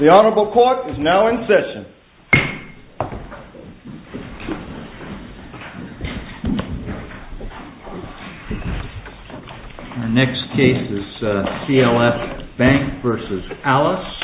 The Honorable Court is now in session. Our next case is CLS BANK v. ALICE.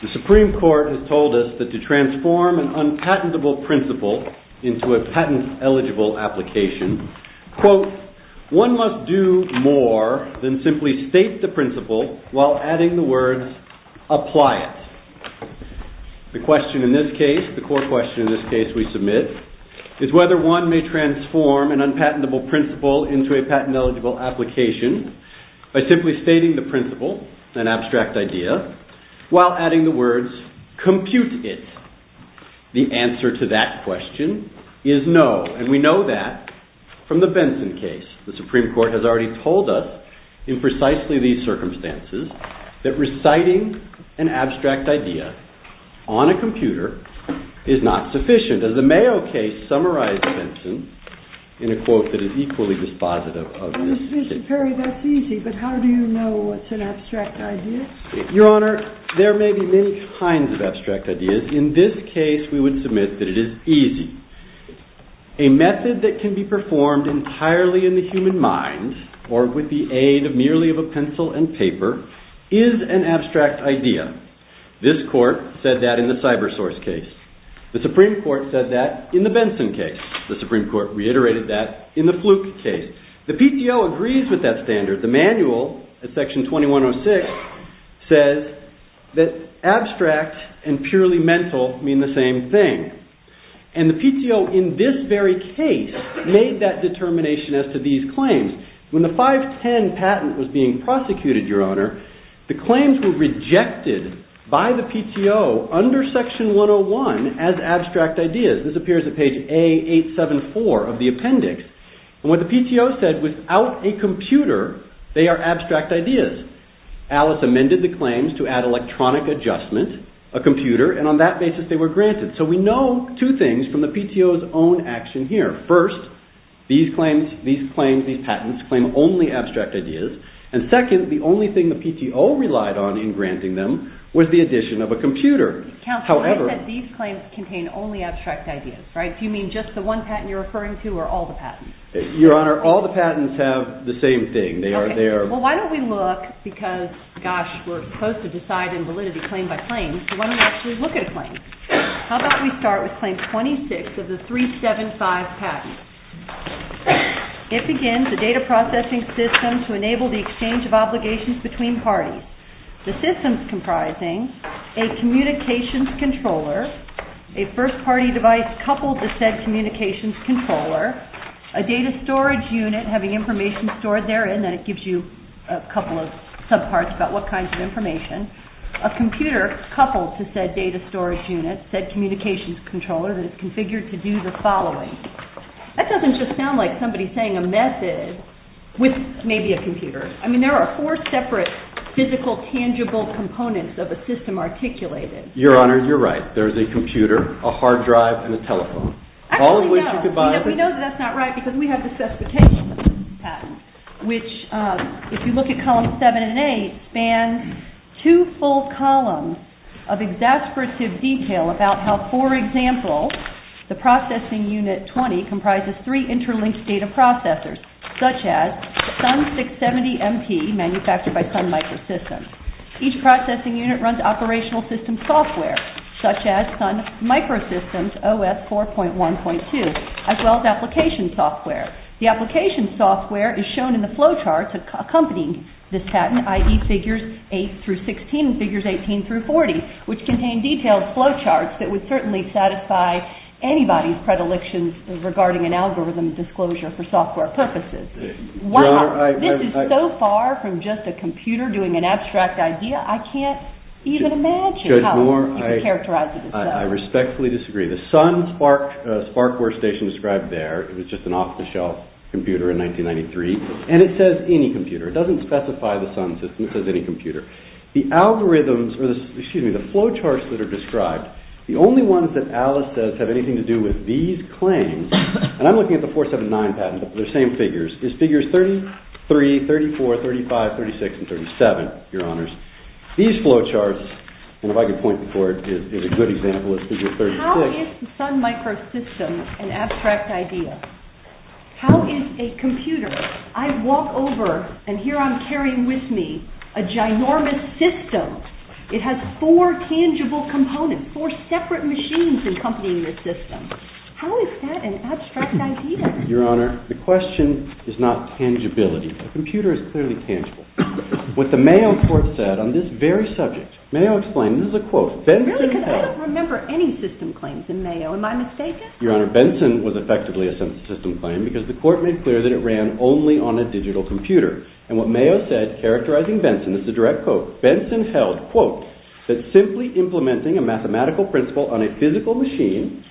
The Supreme Court has told us that to transform an unpatentable principle into a patent-eligible application, quote, one must do more than simply state the principle while adding the The question in this case, the core question in this case we submit, is whether one may transform an unpatentable principle into a patent-eligible application by simply stating the principle, an abstract idea, while adding the words, compute it. The answer to that question is no. And we know that from the Benson case. The Supreme Court has already told us in precisely these circumstances that reciting an abstract idea on a computer is not sufficient. As the Mayo case summarized Benson in a quote that is equally dispositive of this case. Mr. Perry, that's easy. But how do you know what's an abstract idea? Your Honor, there may be many kinds of abstract ideas. In this case, we would submit that it is easy. A method that can be performed entirely in the human mind or with the aid merely of a pencil and paper is an abstract idea. This court said that in the CyberSource case. The Supreme Court said that in the Benson case. The Supreme Court reiterated that in the Fluke case. The PTO agrees with that standard. The manual in section 2106 says that abstract and purely mental mean the same thing. And the PTO in this very case made that determination as to these claims. When the 510 patent was being prosecuted, Your Honor, the claims were rejected by the PTO under section 101 as abstract ideas. This appears on page A874 of the appendix. And what the PTO says, without a computer, they are abstract ideas. Alice amended the claims to add electronic adjustment, a computer, and on that basis they were granted. So we know two things from the PTO's own action here. First, these claims, these patents, claim only abstract ideas. And second, the only thing the PTO relied on in granting them was the addition of a computer. Counsel, I said these claims contain only abstract ideas, right? Do you mean just the one patent you're referring to or all the patents? Your Honor, all the patents have the same thing. Well, why don't we look, because, gosh, we're supposed to decide in validity claim by claim, so why don't we actually look at a claim? How about we start with claim 26 of the 375 patent? It begins, a data processing system to enable the exchange of obligations between parties. The system's comprising a communications controller, a first-party device coupled to said communications controller, a data storage unit having information stored therein, and then it gives you a couple of subparts about what kinds of information, a computer coupled to said data storage unit, said communications controller that is configured to do the following. That doesn't just sound like somebody saying a method with maybe a computer. I mean, there are four separate physical, tangible components of a system articulated. Your Honor, you're right. There's a computer, a hard drive, and a telephone. Actually, no. All of which is divided. We know that that's not right because we have the certification patent, which, if you look at columns 7 and 8, span two full columns of exasperated detail about how, for example, the processing unit 20 comprises three interlinked data processors, such as the Sun 670-MT, manufactured by Sun Microsystems. Each processing unit runs operational system software, such as Sun Microsystems' OS 4.1.2, as well as application software. The application software is shown in the flowcharts accompanying this patent, i.e. figures 8 through 16 and figures 18 through 40, which contain detailed flowcharts that would certainly satisfy anybody's predilections regarding an algorithm disclosure for software purposes. Wow. This is so far from just a computer doing an abstract idea. I can't even imagine how you could characterize it. I respectfully disagree. The Sun SPARC workstation described there was just an off-the-shelf computer in 1993, and it says any computer. It doesn't specify the Sun system. It says any computer. The flowcharts that are described, the only ones that Alice says have anything to do with these claims, and I'm looking at the 479 patents, but they're the same figures, is figures 33, 34, 35, 36, and 37, Your Honors. These flowcharts, if I could point them forward, is a good example of figures 36. How is the Sun microsystem an abstract idea? How is a computer, I walk over and here I'm carrying with me a ginormous system. It has four tangible components, four separate machines accompanying the system. How is that an abstract idea? Your Honor, the question is not tangibility. A computer is clearly tangible. What the Mayo Court said on this very subject, Mayo explained, this is a quote, Benson held I don't remember any system claims in Mayo. Am I mistaken? Your Honor, Benson was effectively a system claim because the court made clear that it ran only on a digital computer, and what Mayo said characterizing Benson, this is a direct quote, Benson held, quote, that simply implementing a mathematical principle on a physical machine,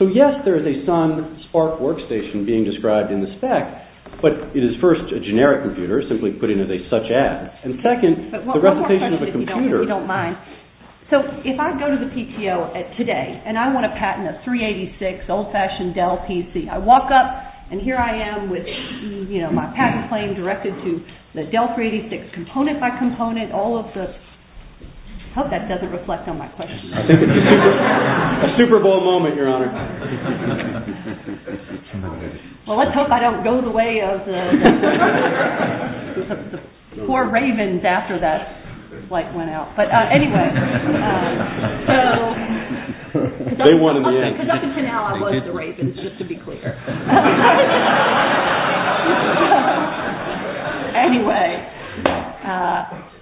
So, yes, there is a Sun Spark workstation being described in the spec, but it is first a generic computer simply put into the such ad, and second, the representation of a computer. So, if I go to the PTO today and I want a patent of 386 old-fashioned Dell PC, I walk up and here I am with my patent claim directed to the Dell 386 component by component, all of the, I hope that doesn't reflect on my question. A super bold moment, Your Honor. Well, let's hope I don't go the way of the poor ravens after that flight went out. But anyway, so, because up until now I wasn't a raven, just to be clear. Anyway,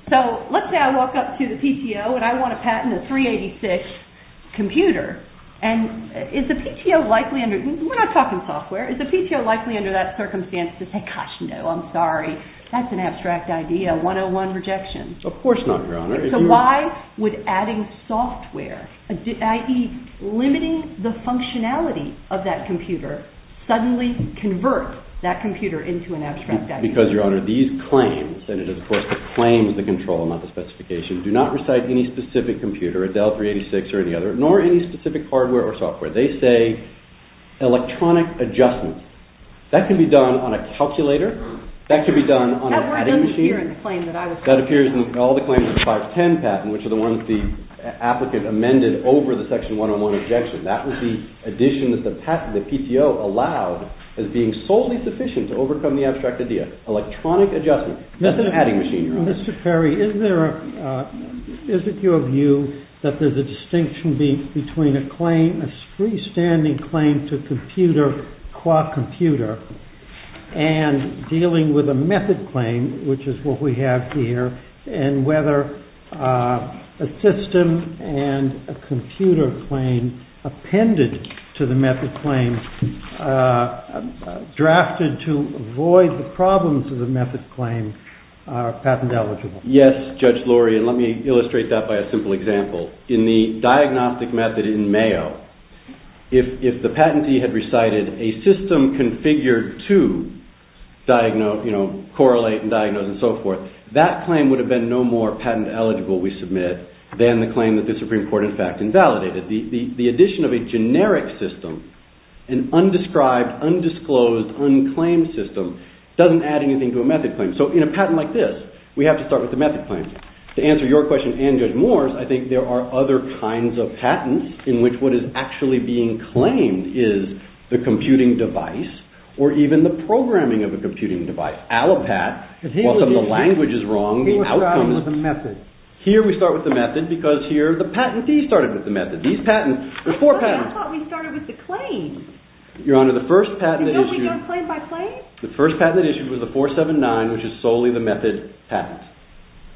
so, let's say I walk up to the PTO and I want a patent of 386 computer, and is the PTO likely under, we're not talking software, is the PTO likely under that circumstance to say, gosh, no, I'm sorry, that's an abstract idea, one-on-one rejection. Of course not, Your Honor. So, why would adding software, i.e. limiting the functionality of that computer, suddenly convert that computer into an abstract idea? Because, Your Honor, these claims, and it is, of course, the claims, the control, not the specification, do not recite any specific computer, a Dell 386 or any other, nor any specific hardware or software. They say electronic adjustment. That can be done on a calculator, that can be done on an editing machine. That appears in all the claims of the 510 patent, which are the ones the applicant amended over the section one-on-one rejection. That was the addition that the PTO allowed as being solely sufficient to overcome the abstract idea. Electronic adjustment, not the editing machine, Your Honor. Mr. Perry, is it your view that there's a distinction between a claim, a freestanding claim to computer qua computer, and dealing with a method claim, which is what we have here, and whether a system and a computer claim appended to the method claim, drafted to avoid the problems of the method claim, are patent eligible? Yes, Judge Lurie, and let me illustrate that by a simple example. In the diagnostic method in Mayo, if the patentee had recited a system configured to correlate and diagnose and so forth, that claim would have been no more patent eligible, we submit, than the claim that the Supreme Court in fact invalidated. The addition of a generic system, an undescribed, undisclosed, unclaimed system, doesn't add anything to a method claim. So in a patent like this, we have to start with the method claim. To answer your question and Judge Moore's, I think there are other kinds of patents in which what is actually being claimed is the computing device, or even the programming of a computing device. Allopat, or some of the language is wrong, the outcomes. He was starting with the method. Here we start with the method, because here the patentee started with the method. These patents, there's four patents. But I thought we started with the claim. Your Honor, the first patent issued. Did we go claim by claim? The first patent issued was the 479, which is solely the method patent.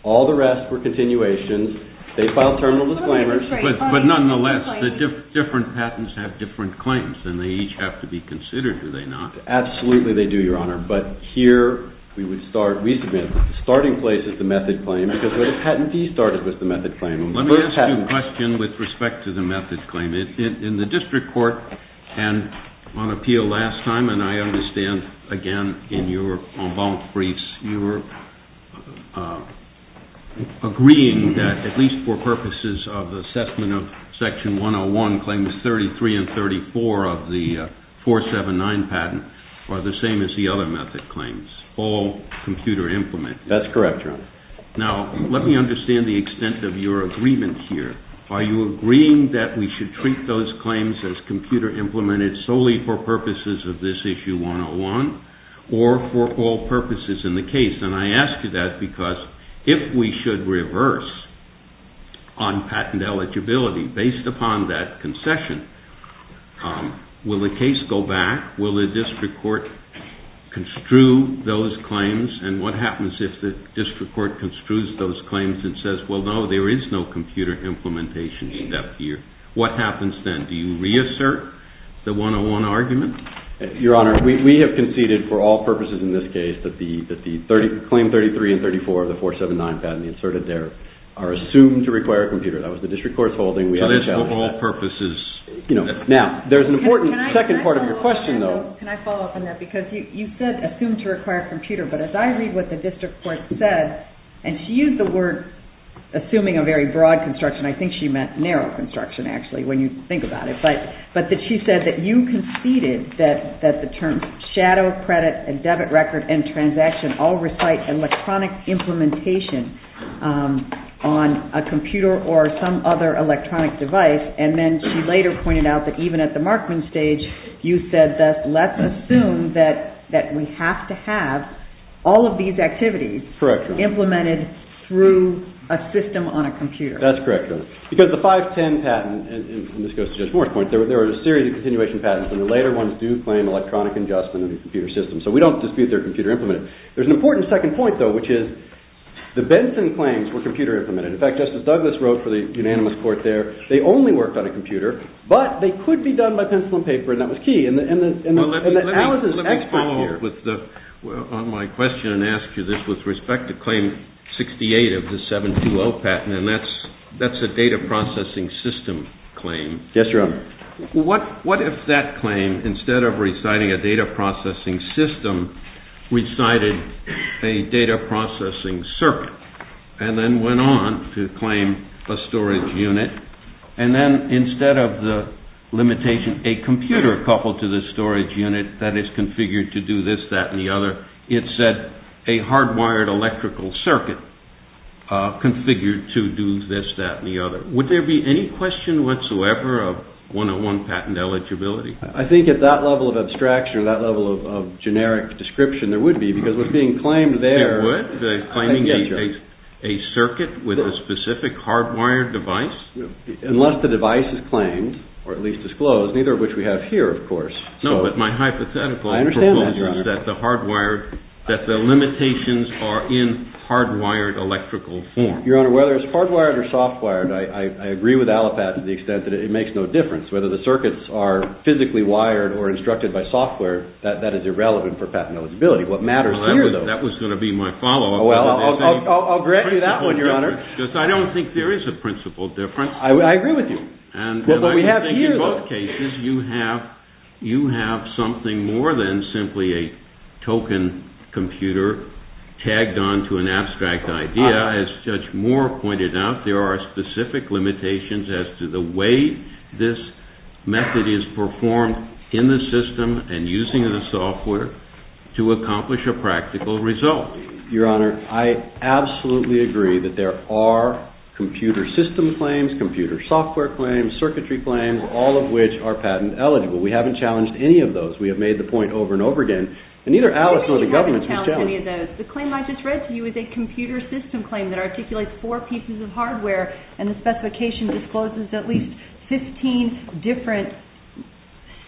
All the rest were continuations. They filed terminal disclaimers. But nonetheless, the different patents have different claims, and they each have to be considered, do they not? Absolutely they do, Your Honor. But here, we would start, we submit, starting place is the method claim, because where the patentee started was the method claim. Let me ask you a question with respect to the method claim. In the district court, and on appeal last time, and I understand, again, in your en agreement, agreeing that, at least for purposes of the assessment of section 101, claims 33 and 34 of the 479 patent are the same as the other method claims, all computer implemented. That's correct, Your Honor. Now, let me understand the extent of your agreement here. Are you agreeing that we should treat those claims as computer implemented solely for purposes of this issue 101, or for all purposes in the case? And I ask you that because if we should reverse on patent eligibility, based upon that concession, will the case go back? Will the district court construe those claims? And what happens if the district court construes those claims and says, well, no, there is no computer implementation in that year? What happens then? Do you reassert the 101 argument? Your Honor, we have conceded, for all purposes in this case, that the claim 33 and 34 of the 479 patent inserted there are assumed to require a computer. That was the district court's holding. So it's for all purposes. Now, there's an important second part of your question, though. Can I follow up on that? Because you said assumed to require a computer. But as I read what the district court says, and she used the word assuming a very broad construction. I think she meant narrow construction, actually, when you think about it. But she said that you conceded that the terms shadow, credit, and debit record, and transaction all recite electronic implementation on a computer or some other electronic device. And then she later pointed out that even at the marketing stage, you said that let's assume that we have to have all of these activities implemented through a system on a computer. That's correct. Because the 510 patent, and this goes to Judge Moore's point, there are a series of continuation patents. And the later ones do claim electronic ingestion in the computer system. So we don't dispute they're computer implemented. There's an important second point, though, which is the Benson claims were computer implemented. In fact, Justice Douglas wrote for the unanimous court there, they only worked on a computer. But they could be done by pencil and paper. And that was key. And the analysis expert here. Well, let me follow up on my question and ask you this with respect to claim 68 of the 720 patent. And that's a data processing system claim. Yes, Your Honor. What if that claim, instead of reciting a data processing system, recited a data processing circuit, and then went on to claim a storage unit, and then instead of the limitation, a computer coupled to the storage unit that is configured to do this, that, and the other, it's a hardwired electrical circuit configured to do this, that, and the other. Would there be any question whatsoever of 101 patent eligibility? I think at that level of abstraction, that level of generic description, there would be, because it's being claimed there. It would? Claiming a circuit with a specific hardwired device? Unless the device is claimed, or at least disclosed, neither of which we have here, of course. No, but my hypothetical proposal is that the limitations are in hardwired electrical form. Your Honor, whether it's hardwired or softwired, I agree with Alipat to the extent that it makes no difference. Whether the circuits are physically wired or instructed by software, that is irrelevant for patent eligibility. What matters here, though... Well, that was going to be my follow-up. Oh, well, I'll grant you that one, Your Honor. Because I don't think there is a principal difference. I agree with you. In both cases, you have something more than simply a token computer tagged onto an abstract idea. As Judge Moore pointed out, there are specific limitations as to the way this method is performed in the system and using the software to accomplish a practical result. Your Honor, I absolutely agree that there are computer system claims, computer software claims, circuitry claims, all of which are patent eligible. We haven't challenged any of those. We have made the point over and over again. And neither Alice nor the government has challenged any of those. The claim I just read to you is a computer system claim that articulates four pieces of hardware, and the specification discloses at least 15 different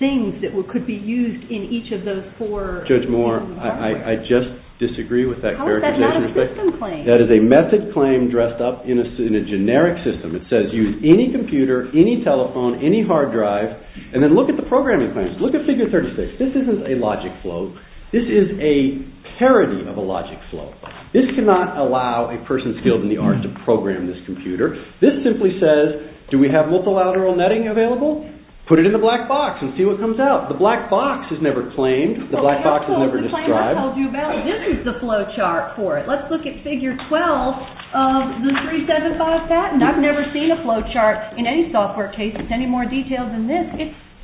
things that could be used in each of those four... Judge Moore, I just disagree with that characterization. How is that not a system claim? That is a method claim dressed up in a generic system. It says use any computer, any telephone, any hard drive, and then look at the programming claims. Look at figure 36. This isn't a logic flow. This is a parody of a logic flow. This cannot allow a person skilled in the art to program this computer. This simply says, do we have multilateral netting available? Put it in the black box and see what comes out. The black box is never claimed. The black box is never described. The claim I told you about, this is the flow chart for it. Let's look at figure 12 of the 375 patent. I've never seen a flow chart in any software case with any more detail than this.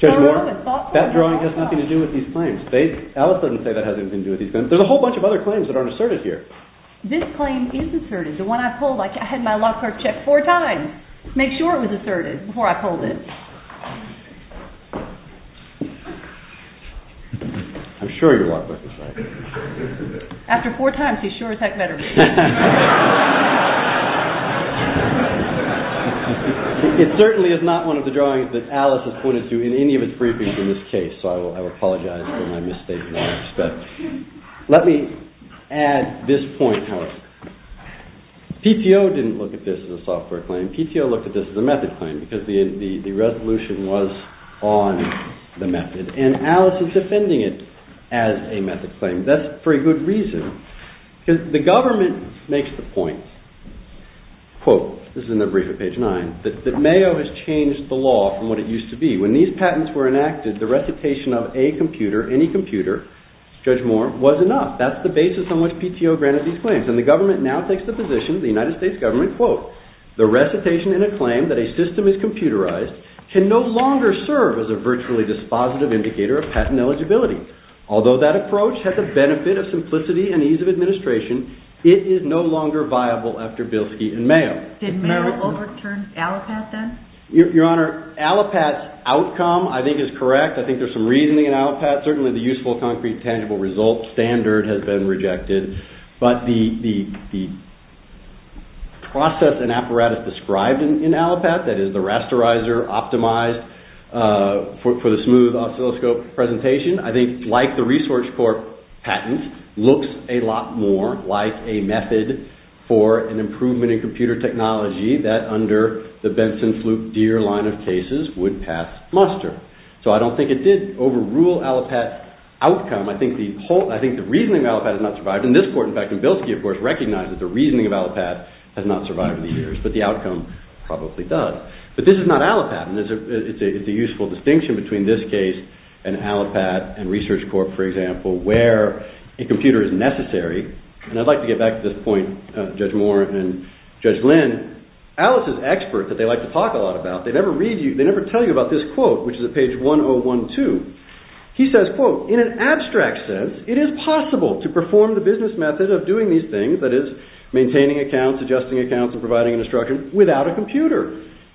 Judge Moore, that drawing has nothing to do with these claims. Alice doesn't say that has anything to do with these claims. There's a whole bunch of other claims that aren't asserted here. This claim is asserted. The one I pulled, I had my law clerk check four times to make sure it was asserted before I pulled it. I'm sure your law clerk was asserted. After four times, he's sure it's that letter. It certainly is not one of the drawings that Alice has pointed to in any of his briefings in this case. So I apologize for my mistake in that respect. Let me add this point, Alice. PTO didn't look at this as a software claim. PTO looked at this as a method claim because the resolution was on the method. And Alice is defending it as a method claim. That's for a good reason. The government makes the point, quote, this is in the brief at page 9, that Mayo has changed the law from what it used to be. When these patents were enacted, the recitation of a computer, any computer, Judge Moore, was enough. That's the basis on which PTO granted these claims. And the government now takes the position, the United States government, quote, the recitation in a claim that a system is computerized can no longer serve as a virtually dispositive indicator of patent eligibility. Although that approach had the benefit of simplicity and ease of administration, it is no longer viable after Bielski and Mayo. Did Mayo overturn ALIPAT then? Your Honor, ALIPAT's outcome I think is correct. I think there's some reasoning in ALIPAT. Certainly the useful concrete tangible results standard has been rejected. But the process and apparatus described in ALIPAT, that is the rasterizer optimized for the smooth oscilloscope presentation, I think like the Resource Corp. patent, looks a lot more like a method for an improvement in computer technology that under the Benson, Flug, Deere line of cases would have mustered. So I don't think it did overrule ALIPAT's outcome. I think the reasoning of ALIPAT has not survived. And this Court, in fact, in Bielski, of course, recognizes the reasoning of ALIPAT has not survived in these years. But the outcome probably does. But this is not ALIPAT. And it's a useful distinction between this case and ALIPAT and Research Corp., for example, where a computer is necessary. And I'd like to get back to this point, Judge Warren and Judge Lynn. Alice is an expert that they like to talk a lot about. They never tell you about this quote, which is at page 1012. He says, quote, in an abstract sense, it is possible to perform the business method of doing these things, that is, maintaining accounts, adjusting accounts, and providing instruction, without a computer.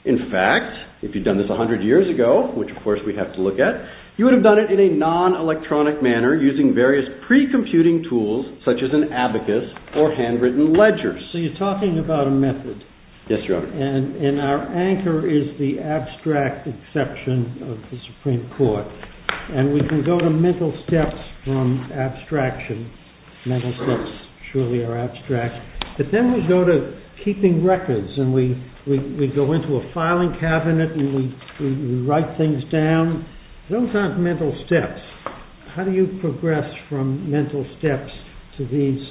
In fact, if you'd done this 100 years ago, which, of course, we'd have to look at, you would have done it in a non-electronic manner, using various pre-computing tools, such as an abacus or handwritten ledgers. So you're talking about a method. Yes, Your Honor. And our anchor is the abstract exception of the Supreme Court. And we can go to mental steps from abstraction. Mental steps surely are abstract. But then we go to keeping records, and we go into a filing cabinet, and we write things down. Those aren't mental steps. How do you progress from mental steps to these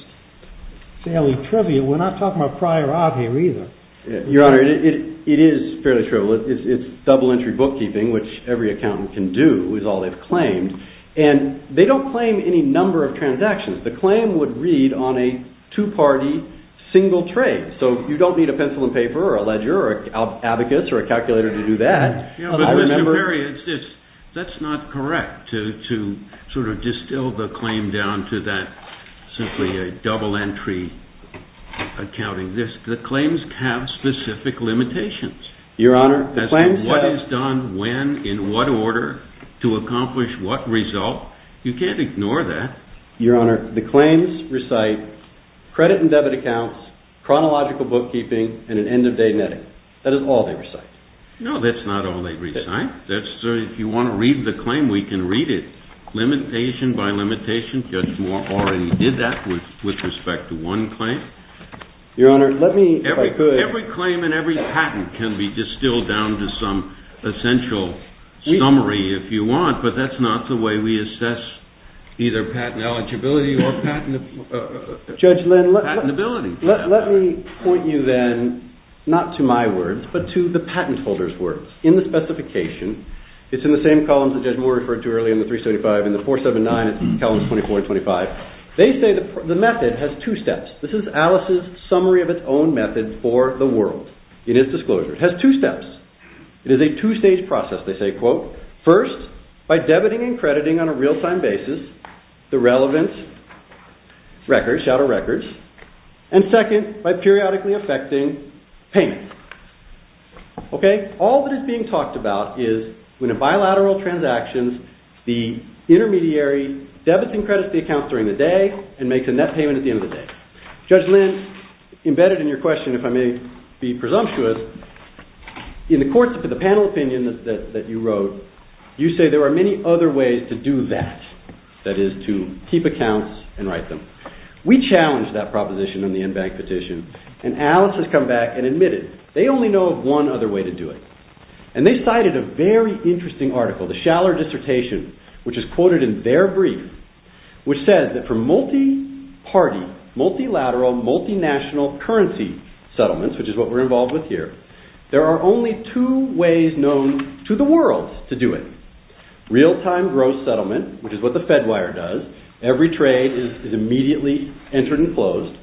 fairly trivial? We're not talking about prior art here, either. Your Honor, it is fairly trivial. It's double-entry bookkeeping, which every accountant can do, is all they've claimed. And they don't claim any number of transactions. The claim would read on a two-party, single tray. So you don't need a pencil and paper, or a ledger, or abacus, or a calculator to do that. Mr. Perry, that's not correct, to sort of distill the claim down to that, simply a double-entry accounting. The claims have specific limitations. Your Honor, the claims? What is done when, in what order, to accomplish what result. You can't ignore that. Your Honor, the claims recite credit and debit accounts, chronological bookkeeping, and an end-of-day netting. That is all they recite. No, that's not all they recite. If you want to read the claim, we can read it, limitation by limitation. Your Honor, let me, if I could. Every claim and every patent can be distilled down to some essential summary, if you want, but that's not the way we assess either patent eligibility or patentability. Judge, let me point you then, not to my words, but to the patent holder's words. In the specification, it's in the same columns that Judge Moore referred to earlier, in the 375, in the 479, in the Calendars 24 and 25. They say the method has two steps. This is Alice's summary of its own method for the world. It is disclosure. It has two steps. It is a two-stage process. They say, quote, first, by debiting and crediting on a real-time basis, the relevance records, shadow records, and second, by periodically affecting payment. Okay? All that is being talked about is when a bilateral transaction, the intermediary debits and credits the account during the day and makes a net payment at the end of the day. Judge Lin, embedded in your question, if I may be presumptuous, in the course of the panel opinion that you wrote, you say there are many other ways to do that, that is, to keep accounts and write them. We challenged that proposition in the Inbank petition, and Alice has come back and admitted they only know of one other way to do it, and they cited a very interesting article, the Schaller dissertation, which is quoted in their brief, which says that for multi-party, multilateral, multinational currency settlements, which is what we're involved with here, there are only two ways known to the world to do it. Real-time gross settlement, which is what the Fedwire does, every trade is immediately entered and closed,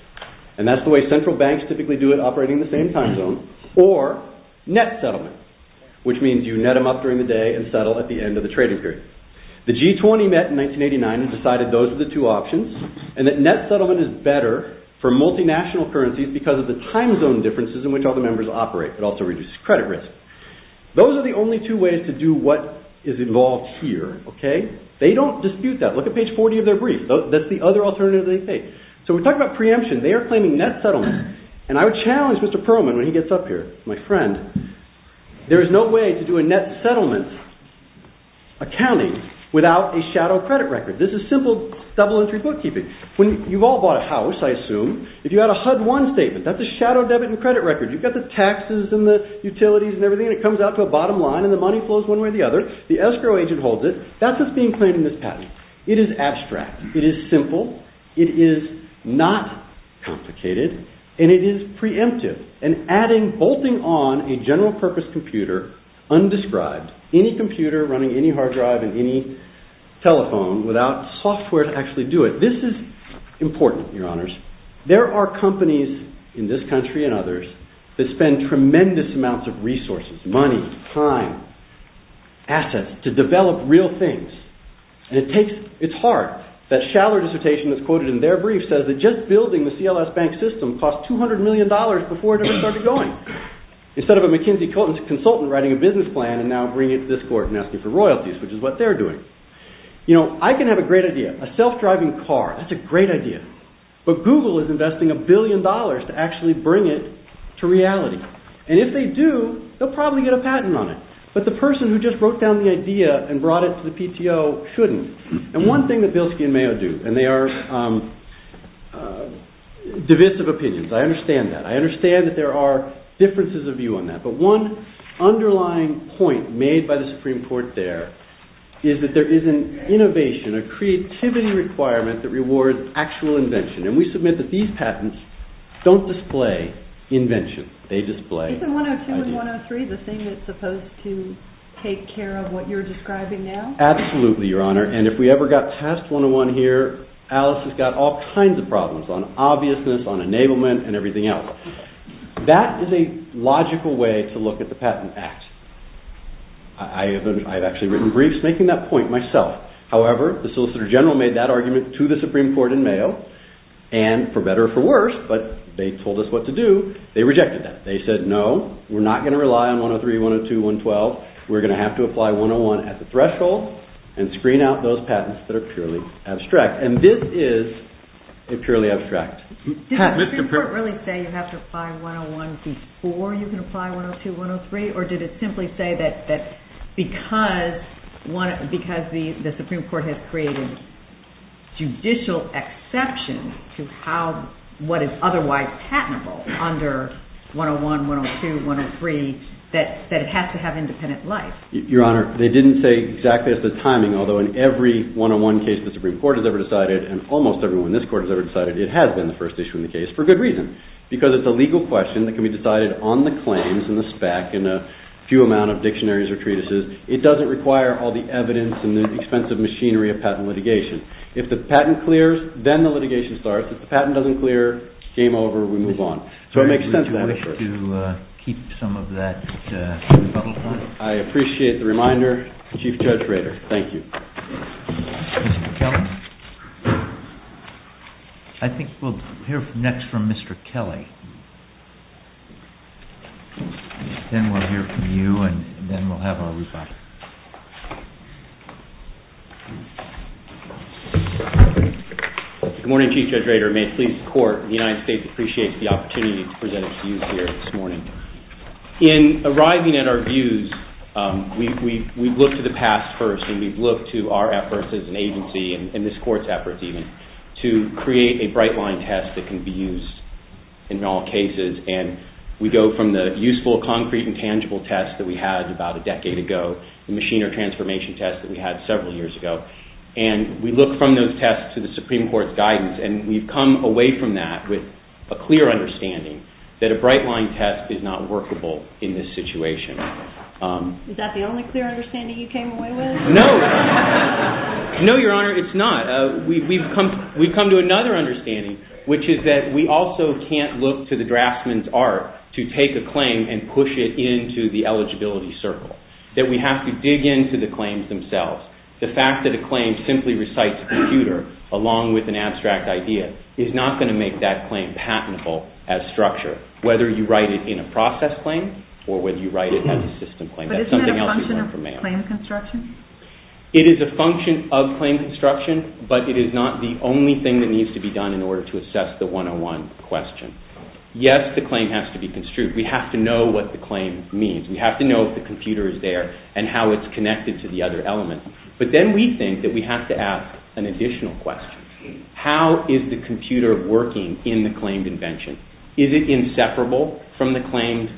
and that's the way central banks typically do it operating in the same time zone, or net settlement, which means you net them up during the day and settle at the end of the trading period. The G20 met in 1989 and decided those are the two options, and that net settlement is better for multinational currencies because of the time zone differences in which all the members operate, but also reduces credit risk. Those are the only two ways to do what is involved here. They don't dispute that. Look at page 40 of their brief. That's the other alternative they take. So we talk about preemption. They are claiming net settlement, There is no way to do a net settlement accounting without a shadow credit record. This is simple double-entry bookkeeping. You've all bought a house, I assume. If you had a HUD-1 statement, that's a shadow debit and credit record. You've got the taxes and the utilities and everything, and it comes out to a bottom line, and the money flows one way or the other. The escrow agent holds it. That's what's being claimed in this patent. It is abstract. It is simple. It is not complicated. And it is preemptive. And adding, bolting on a general-purpose computer, undescribed, any computer running any hard drive and any telephone, without software to actually do it. This is important, your honors. There are companies in this country and others that spend tremendous amounts of resources, money, time, assets, to develop real things. And it's hard. That Schaller dissertation that's quoted in their brief says that just building the CLS Bank system cost $200 million before it even started going. Instead of a McKinsey-Cohen consultant writing a business plan, and now bringing it to this court and asking for royalties, which is what they're doing. You know, I can have a great idea. A self-driving car, that's a great idea. But Google is investing a billion dollars to actually bring it to reality. And if they do, they'll probably get a patent on it. But the person who just broke down the idea and brought it to the PTO shouldn't. And one thing that Bilski and Mayo do, and they are divisive opinions. I understand that. I understand that there are differences of view on that. But one underlying point made by the Supreme Court there is that there is an innovation, a creativity requirement that rewards actual invention. And we submit that these patents don't display invention. They display... Isn't 102 and 103 the thing that's supposed to take care of what you're describing now? Absolutely, Your Honor. And if we ever got Task 101 here, Alice has got all kinds of problems on obviousness, on enablement, and everything else. That is a logical way to look at the patent act. I've actually written briefs making that point myself. However, the Solicitor General made that argument to the Supreme Court in Mayo, and for better or for worse, but they told us what to do, they rejected that. They said, no, we're not going to rely on 103, 102, 112. We're going to have to apply 101 at the threshold and screen out those patents that are purely abstract. And this is purely abstract. Did the Supreme Court really say you have to apply 101 before you can apply 102, 103? Or did it simply say that because the Supreme Court has created judicial exceptions to what is otherwise patentable under 101, 102, 103, that it has to have independent life? Your Honor, they didn't say exactly at the timing, although in every 101 case the Supreme Court has ever decided, and almost every one this court has ever decided, it has been the first issue in the case, for good reason. Because it's a legal question that can be decided on the claims in the SPAC, in a few amount of dictionaries or treatises. It doesn't require all the evidence and the expensive machinery of patent litigation. If the patent clears, then the litigation starts. If the patent doesn't clear, game over, we move on. Would you wish to keep some of that? I appreciate the reminder, Chief Judge Rader, thank you. I think we'll hear next from Mr. Kelly. Then we'll hear from you, and then we'll have a rebuttal. Good morning, Chief Judge Rader. May the Supreme Court of the United States appreciate the opportunity to present to you here this morning. In arriving at our views, we've looked to the past first, and we've looked to our efforts as an agency, and this court's efforts even, to create a bright-line test that can be used in all cases. And we go from the useful, concrete, and tangible tests that we had about a decade ago, the machinery transformation test that we had several years ago, and we look from those tests to the Supreme Court's guidance. And we've come away from that with a clear understanding that a bright-line test is not workable in this situation. Is that the only clear understanding you came away with? No. No, Your Honor, it's not. We've come to another understanding, which is that we also can't look to the draftsman's art to take a claim and push it into the eligibility circle, that we have to dig into the claims themselves. The fact that a claim simply recites a computer along with an abstract idea is not going to make that claim patentable as structure, whether you write it in a process claim or whether you write it as a system claim. But isn't that a function of the claim construction? It is a function of claim construction, but it is not the only thing that needs to be done in order to assess the 101 question. Yes, the claim has to be construed. We have to know what the claim means. We have to know if the computer is there and how it's connected to the other elements. But then we think that we have to ask an additional question. How is the computer working in the claimed invention? Is it inseparable from the claimed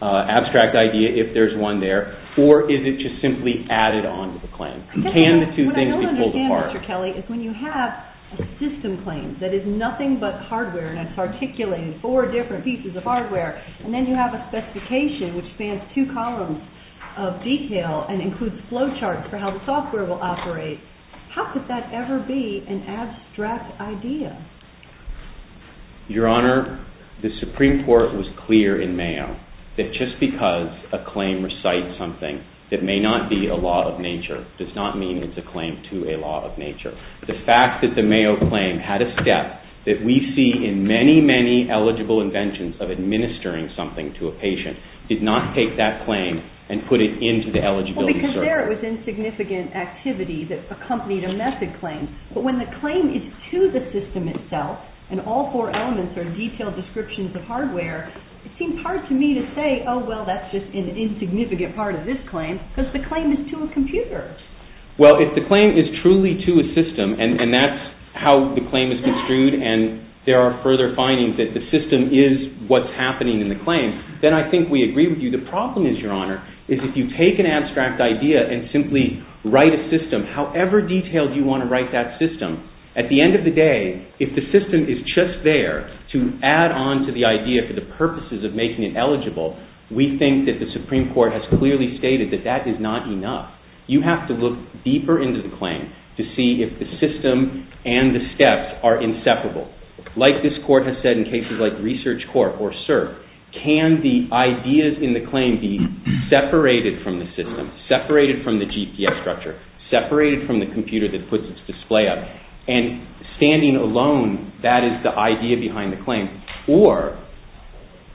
abstract idea, if there's one there, or is it just simply added on to the claim? What I don't understand, Mr. Kelly, is when you have a system claim that is nothing but hardware, and it's articulated in four different pieces of hardware, and then you have a specification which spans two columns of detail and includes flow charts for how the software will operate. How could that ever be an abstract idea? Your Honor, the Supreme Court was clear in Mayo that just because a claim recites something that may not be a law of nature does not mean it's a claim to a law of nature. The fact that the Mayo claim had a step that we see in many, many eligible inventions of administering something to a patient did not take that claim and put it into the eligibility circle. Well, because there it was insignificant activity that accompanied a method claim. But when the claim is to the system itself, and all four elements are detailed descriptions of hardware, it seems hard to me to say, oh, well, that's just an insignificant part of this claim, because the claim is to a computer. Well, if the claim is truly to a system, and that's how the claim is construed, and there are further findings that the system is what's happening in the claim, then I think we agree with you. The problem is, Your Honor, is if you take an abstract idea and simply write a system, however detailed you want to write that system, at the end of the day, if the system is just there to add on to the idea for the purposes of making it eligible, we think that the Supreme Court has clearly stated that that is not enough. You have to look deeper into the claim to see if the system and the steps are inseparable. Like this Court has said in cases like ResearchCorp or CERC, can the ideas in the claim be separated from the system, separated from the GPS structure, separated from the computer that puts its display up, and standing alone, that is the idea behind the claim? Or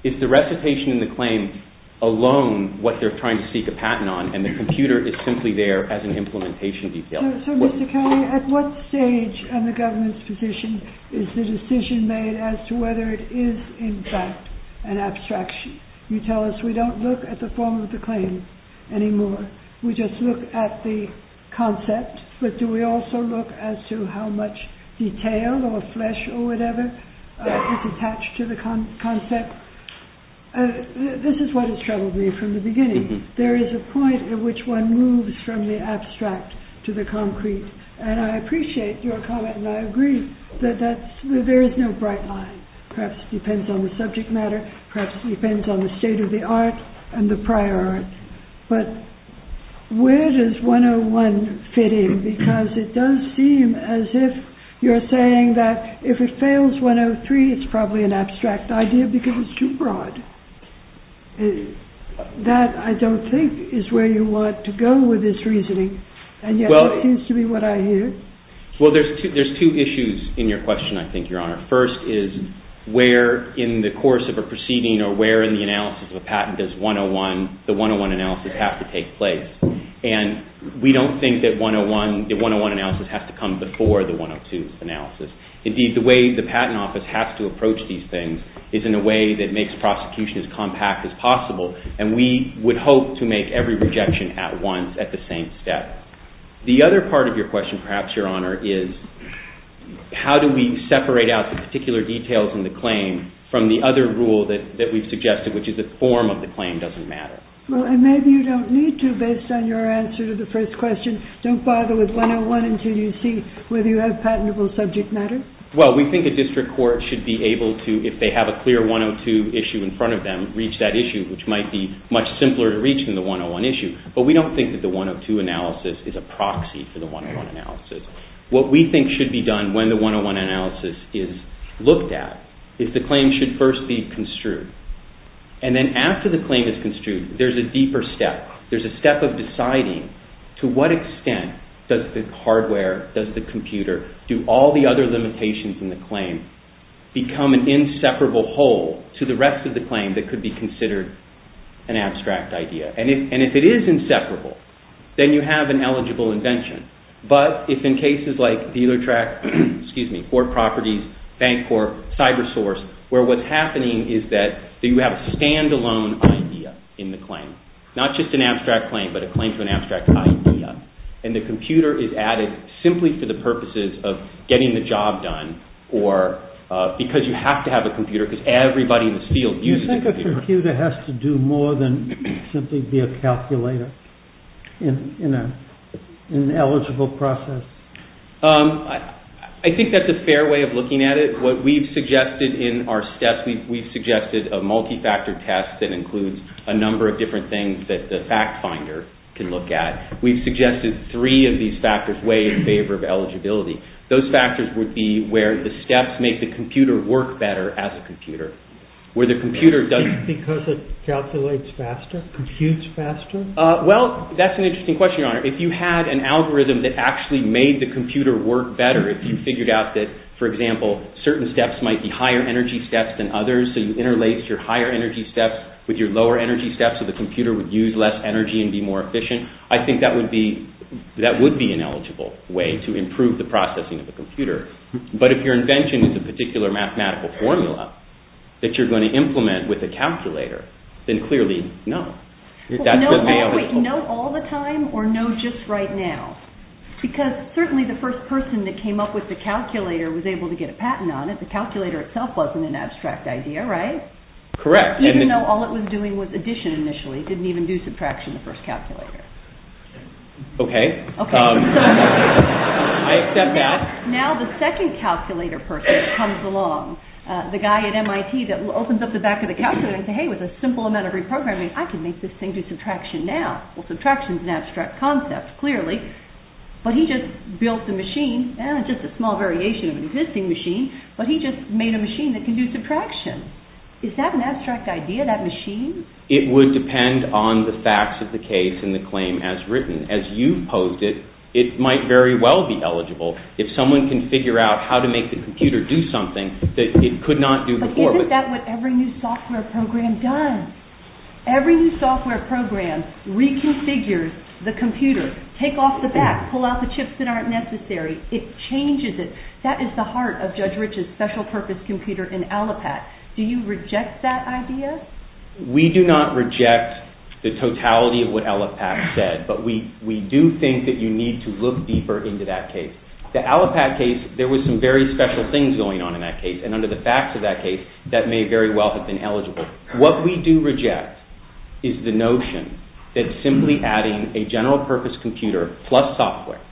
is the recitation in the claim alone what they're trying to seek a patent on, and the computer is simply there as an implementation detail? So, Mr. Connolly, at what stage in the government's position is the decision made as to whether it is in fact an abstraction? You tell us we don't look at the form of the claim anymore. We just look at the concept, but do we also look as to how much detail or flesh or whatever is attached to the concept? This is what has troubled me from the beginning. There is a point at which one moves from the abstract to the concrete, and I appreciate your comment, and I agree, that there is no bright line. Perhaps it depends on the subject matter, perhaps it depends on the state of the art and the prior art. But where does 101 fit in? Because it does seem as if you're saying that if it fails 103, it's probably an abstract idea because it's too broad. That, I don't think, is where you want to go with this reasoning, and yet it seems to be what I hear. Well, there's two issues in your question, I think, Your Honor. First is where in the course of a proceeding or where in the analysis of a patent does the 101 analysis have to take place? And we don't think that the 101 analysis has to come before the 102 analysis. Indeed, the way the Patent Office has to approach these things is in a way that makes prosecution as compact as possible, and we would hope to make every rejection at once at the same step. The other part of your question, perhaps, Your Honor, is how do we separate out the particular details in the claim from the other rule that we've suggested, which is the form of the claim doesn't matter. Well, and maybe you don't need to, based on your answer to the first question. Don't bother with 101 until you see whether you have patentable subject matter. Well, we think a district court should be able to, if they have a clear 102 issue in front of them, reach that issue, which might be much simpler to reach than the 101 issue. But we don't think that the 102 analysis is a proxy for the 101 analysis. What we think should be done when the 101 analysis is looked at is the claim should first be construed. And then after the claim is construed, there's a deeper step. There's a step of deciding to what extent does the hardware, does the computer, do all the other limitations in the claim become an inseparable whole to the rest of the claim that could be considered an abstract idea. And if it is inseparable, then you have an eligible invention. But it's in cases like DealerTrack, Fort Properties, Bancorp, CyberSource, where what's happening is that you have a standalone idea in the claim. Not just an abstract claim, but a claim to an abstract idea. And the computer is added simply for the purposes of getting the job done or because you have to have a computer, because everybody in the field uses a computer. The computer has to do more than simply be a calculator in an eligible process. I think that's a fair way of looking at it. What we've suggested in our steps, we've suggested a multi-factor test that includes a number of different things that the fact finder can look at. We've suggested three of these factors weigh in favor of eligibility. Because it calculates faster? Computes faster? Well, that's an interesting question. If you had an algorithm that actually made the computer work better, if you figured out that, for example, certain steps might be higher energy steps than others, so you interlace your higher energy steps with your lower energy steps so the computer would use less energy and be more efficient, to improve the processing of the computer. But if your invention is a particular mathematical formula that you're going to implement with a calculator, then clearly, no. No all the time or no just right now? Because certainly the first person that came up with the calculator was able to get a patent on it. The calculator itself wasn't an abstract idea, right? Correct. Even though all it was doing was addition initially. It didn't even do subtraction in the first calculator. Okay. I step back. Now the second calculator person comes along. The guy at MIT that opens up the back of the calculator and says, hey, with a simple amount of reprogramming, I can make this thing do subtraction now. Well, subtraction is an abstract concept, clearly. But he just built the machine. It's just a small variation of an existing machine, but he just made a machine that can do subtraction. Is that an abstract idea, that machine? It would depend on the facts of the case and the claim as written. As you posed it, it might very well be eligible. If someone can figure out how to make the computer do something that it could not do before. But isn't that what every new software program does? Every new software program reconfigures the computer. Take off the back. Pull out the chips that aren't necessary. It changes it. That is the heart of Judge Rich's special purpose computer in Allopat. Do you reject that idea? We do not reject the totality of what Allopat said, but we do think that you need to look deeper into that case. The Allopat case, there were some very special things going on in that case, and under the facts of that case, that may very well have been eligible. What we do reject is the notion that simply adding a general purpose computer plus software,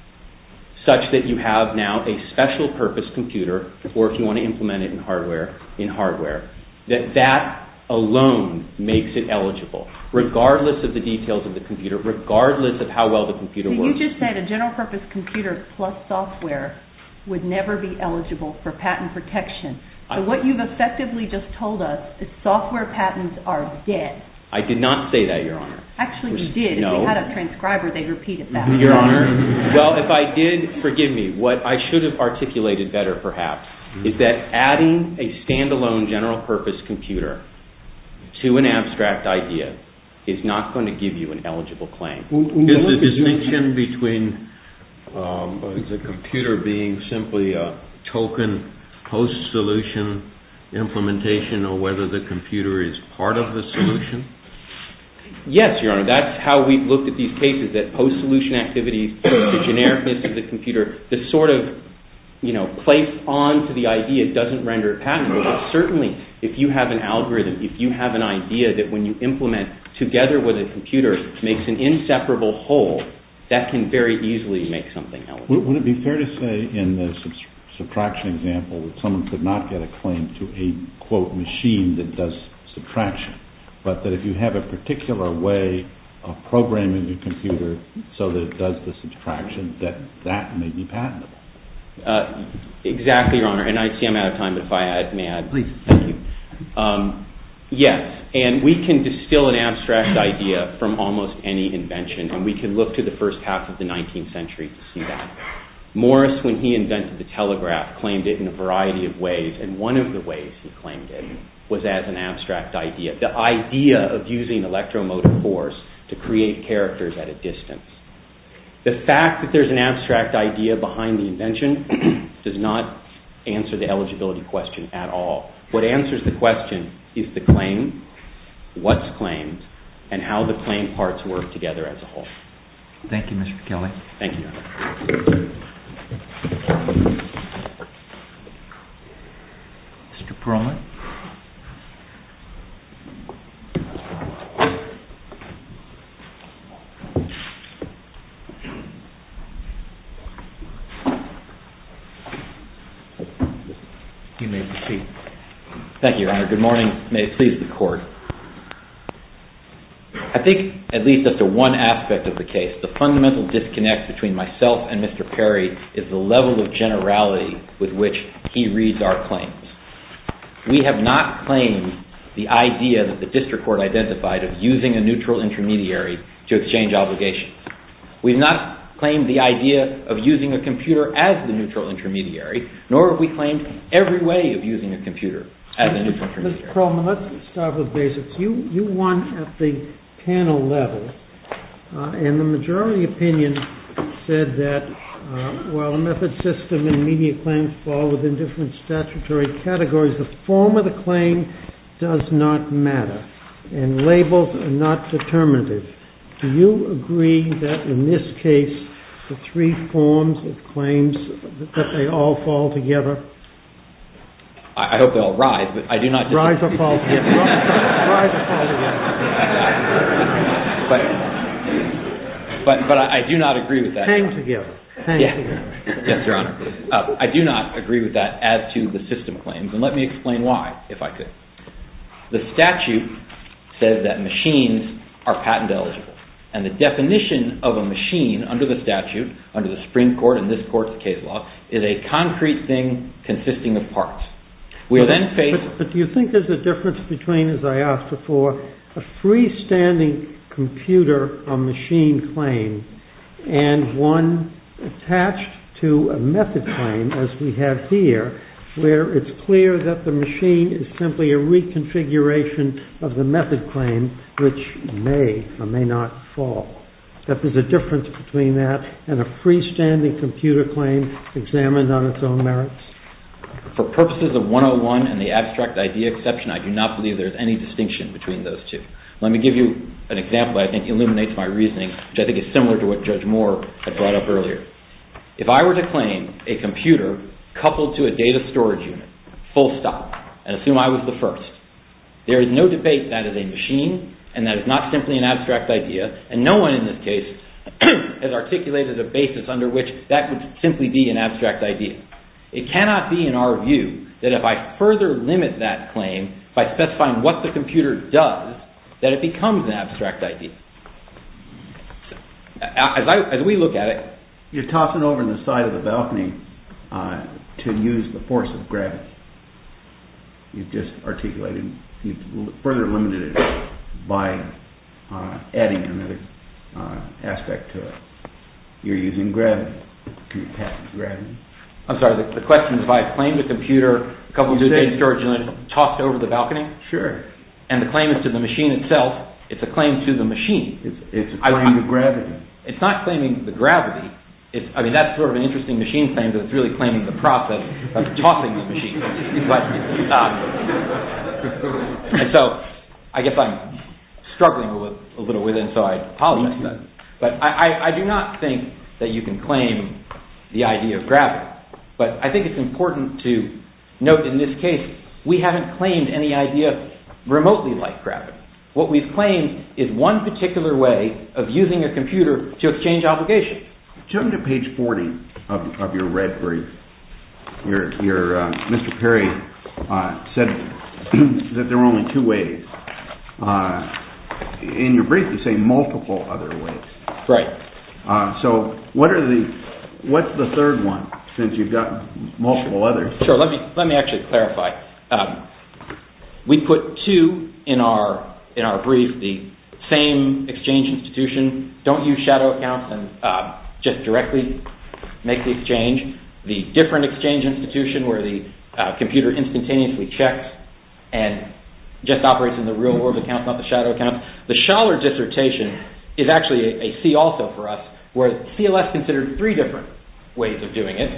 such that you have now a special purpose computer, or if you want to implement it in hardware, in hardware, that that alone makes it eligible, regardless of the details of the computer, regardless of how well the computer works. You just said a general purpose computer plus software would never be eligible for patent protection. So what you've effectively just told us is software patents are dead. I did not say that, Your Honor. Actually, you did. They had a transcriber. They repeated that. Your Honor, well, if I did, forgive me. What I should have articulated better, perhaps, is that adding a standalone general purpose computer to an abstract idea is not going to give you an eligible claim. Is the distinction between the computer being simply a token post-solution implementation or whether the computer is part of the solution? Yes, Your Honor. That's how we've looked at these cases, that post-solution activity, the genericness of the computer, this sort of place onto the idea doesn't render it patentable. Certainly, if you have an algorithm, if you have an idea that when you implement together with a computer, makes an inseparable whole, that can very easily make something eligible. Would it be fair to say in this subtraction example that someone could not get a claim to a, quote, machine that does subtraction, but that if you have a particular way of programming your computer so that it does the subtraction, that that may be patentable? Exactly, Your Honor. And I see I'm out of time. If I add, may I add? Please. Yes, and we can distill an abstract idea from almost any invention, and we can look to the first half of the 19th century to see that. Morris, when he invented the telegraph, claimed it in a variety of ways, and one of the ways he claimed it was as an abstract idea, the idea of using electromotive force to create characters at a distance. The fact that there's an abstract idea behind the invention does not answer the eligibility question at all. What answers the question is the claim, what's claimed, and how the claimed parts work together as a whole. Thank you, Mr. Kelly. Thank you. Mr. Perlman? You may proceed. Thank you, Your Honor. Good morning. May it please the Court. I think, at least as to one aspect of the case, the fundamental disconnect between myself and Mr. Perry is the level of generality with which he reads our claims. We have not claimed the idea that the district court identified of using a neutral intermediary to exchange obligations. We have not claimed the idea of using a computer as the neutral intermediary, nor have we claimed every way of using a computer as a neutral intermediary. Mr. Perlman, let's start with basics. You won at the panel level, and the majority opinion said that while method, system, and media claims fall within different statutory categories, the form of the claim does not matter, and labels are not determinative. Do you agree that, in this case, the three forms of claims, that they all fall together? I hope they all rise. Rise or fall together. Rise or fall together. But I do not agree with that. Hang together. Yes, Your Honor. I do not agree with that as to the system claims, and let me explain why, if I could. The statute says that machines are patent eligible, and the definition of a machine under the statute, under the Supreme Court and this court's case law, is a concrete thing consisting of parts. But do you think there's a difference between, as I asked before, a freestanding computer or machine claim, and one attached to a method claim, as we have here, where it's clear that the machine is simply a reconfiguration of the method claim, which may or may not fall? That there's a difference between that and a freestanding computer claim examined on its own merits? For purposes of 101 and the abstract idea exception, I do not believe there's any distinction between those two. Let me give you an example that I think illuminates my reasoning, which I think is similar to what Judge Moore had brought up earlier. If I were to claim a computer coupled to a data storage unit, full stop, and assume I was the first, there is no debate that it is a machine, and that it's not simply an abstract idea, and no one in this case has articulated a basis under which that would simply be an abstract idea. It cannot be, in our view, that if I further limit that claim by specifying what the computer does, that it becomes an abstract idea. As we look at it... You're tossing over the side of the balcony to use the force of gravity. You've just articulated... You've further limited it by adding another aspect to it. You're using gravity. You're attacking gravity. I'm sorry, the question is, if I claim that the computer coupled to a data storage unit tossed over the balcony? Sure. And the claim is to the machine itself. It's a claim to the machine. It's a claim to gravity. It's not claiming the gravity. I mean, that's sort of an interesting machine claim, that it's really claiming the process of tossing the machine. But... So, I guess I'm struggling a little bit with it, so I apologize for that. But I do not think that you can claim the idea of gravity. But I think it's important to note in this case, we haven't claimed any idea remotely like gravity. What we've claimed is one particular way of using a computer to exchange obligations. Jump to page 40 of your red brief. Your... Mr. Perry said that there are only two ways. In your brief, you say multiple other ways. Right. So, what are the... What's the third one, since you've got multiple others? Sure, let me actually clarify. We put two in our brief. The same exchange institution, don't use shadow accounts and just directly make the exchange. The different exchange institution, where the computer instantaneously checks and just operates in the real world accounts, not the shadow accounts. The Schaller dissertation is actually a C also for us, where CLS considered three different ways of doing it,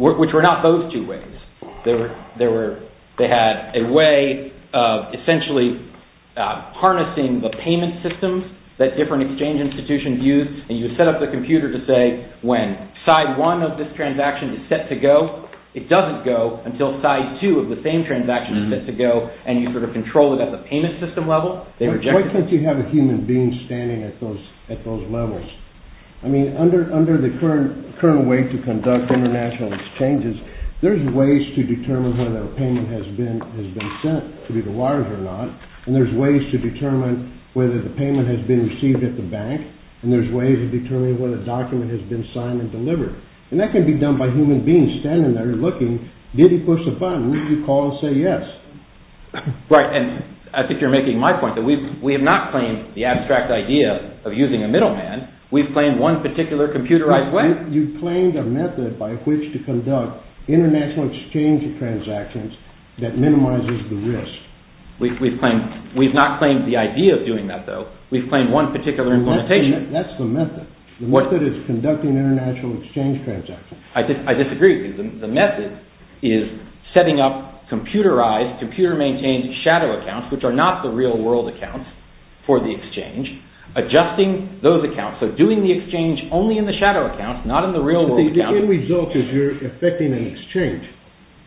which were not those two ways. They had a way of essentially harnessing the payment systems that different exchange institutions use, and you set up the computer to say when side one of this transaction is set to go, it doesn't go until side two of the same transaction is set to go, and you sort of control it at the payment system level. Why can't you have a human being standing at those levels? I mean, under the current way to conduct international exchanges, there's ways to determine whether a payment has been sent to be wired or not, and there's ways to determine whether the payment has been received at the bank, and there's ways to determine whether a document has been signed and delivered. And that can be done by human beings standing there looking, did he push the button? Did he call and say yes? Right, and I think you're making my point that we have not claimed the abstract idea of using a middleman. We've claimed one particular computerized way. You've claimed a method by which to conduct international exchange transactions that minimizes the risk. We've not claimed the idea of doing that, though. We've claimed one particular implementation. That's the method. The method is conducting international exchange transactions. I disagree. The method is setting up computerized, computer-maintained shadow accounts, which are not the real-world accounts for the exchange, adjusting those accounts. So doing the exchange only in the shadow accounts, not in the real-world accounts. But the end result is you're effecting an exchange.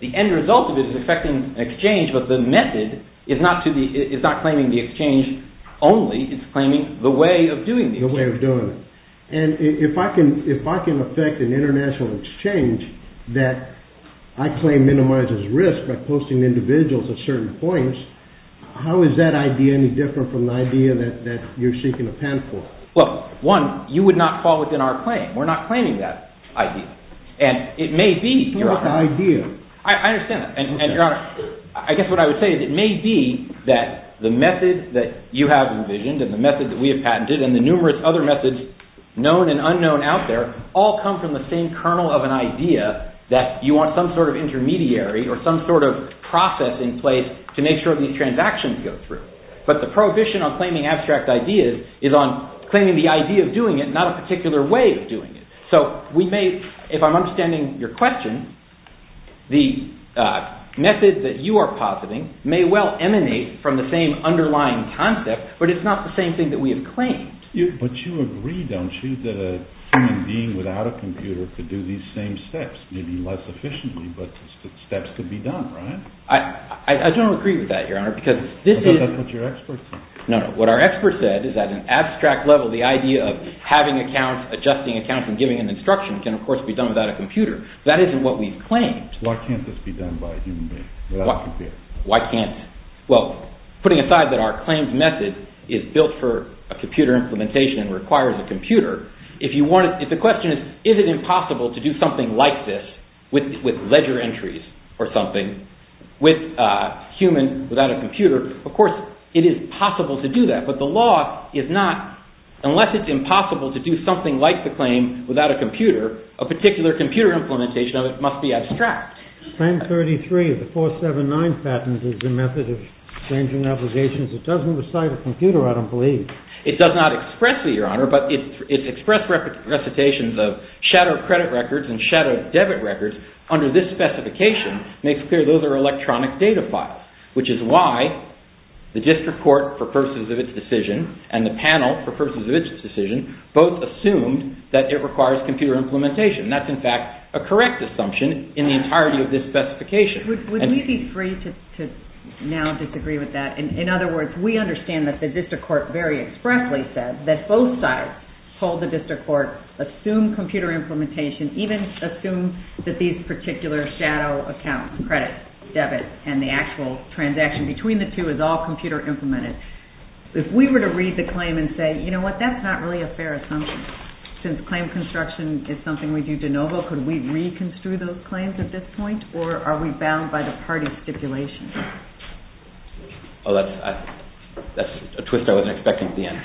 The end result of it is effecting an exchange, but the method is not claiming the exchange only. It's claiming the way of doing the exchange. The way of doing it. And if I can effect an international exchange that I claim minimizes risk by posting individuals at certain points, how is that idea any different from the idea that you're seeking a passport? Well, one, you would not fall within our claim. We're not claiming that idea. And it may be, Your Honor. What's an idea? I understand that. And, Your Honor, I guess what I would say is it may be that the method that you have envisioned and the method that we have patented and the numerous other methods, known and unknown out there, all come from the same kernel of an idea that you want some sort of intermediary or some sort of process in place to make sure these transactions go through. But the prohibition on claiming abstract ideas is on claiming the idea of doing it, not a particular way of doing it. So we may, if I'm understanding your question, the method that you are positing may well emanate from the same underlying concept, but it's not the same thing that we have claimed. But you agree, don't you, that a human being without a computer could do these same steps, maybe less efficiently, but the steps could be done, right? I don't agree with that, Your Honor. Is that what your experts said? No, no. What our experts said is that at an abstract level, the idea of having accounts, adjusting accounts, and giving an instruction can, of course, be done without a computer. That isn't what we've claimed. Why can't this be done by a human being without a computer? Why can't it? Well, putting aside that our claimed method is built for a computer implementation and requires a computer, the question is, is it impossible to do something like this with ledger entries or something with a human without a computer? Of course, it is possible to do that, but the law is not. Unless it's impossible to do something like the claim without a computer, a particular computer implementation of it must be abstract. 1033 of the 479 patents is the method of changing obligations. It doesn't recite a computer, I don't believe. It does not expressly, Your Honor, but it's expressed recitations of shadow credit records and shadow debit records under this specification makes clear those are electronic data files, which is why the district court for purposes of its decision and the panel for purposes of its decision both assumed that it requires computer implementation. That's, in fact, a correct assumption in the entirety of this specification. Would you be free to now disagree with that? In other words, we understand that the district court very expressly said that both sides told the district court, assume computer implementation, even assume that these particular shadow accounts, credit, debit, and the actual transaction between the two is all computer implemented. If we were to read the claim and say, you know what, that's not really a fair assumption. Since claim construction is something we do de novo, could we reconstitute those claims at this point or are we bound by the party stipulations? That's a twist I wasn't expecting at the end.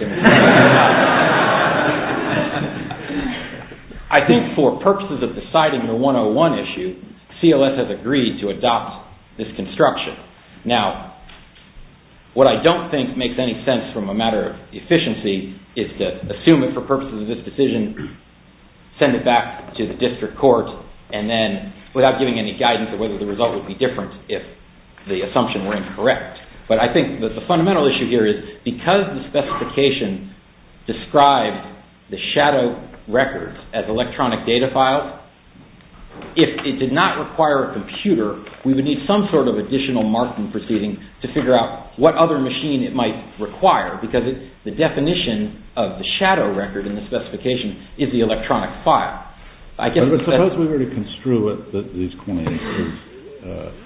I think for purposes of deciding the 101 issue, CLS has agreed to adopt this construction. Now, what I don't think makes any sense from a matter of efficiency is to assume it for purposes of this decision, send it back to the district court, and then without giving any guidance of whether the result would be different if the assumption were incorrect. But I think that the fundamental issue here is because the specifications describe the shadow records as electronic data files, if it did not require a computer, we would need some sort of additional marking proceeding to figure out what other machine it might require because the definition of the shadow record in the specification is the electronic file. Suppose we were to construe these claims,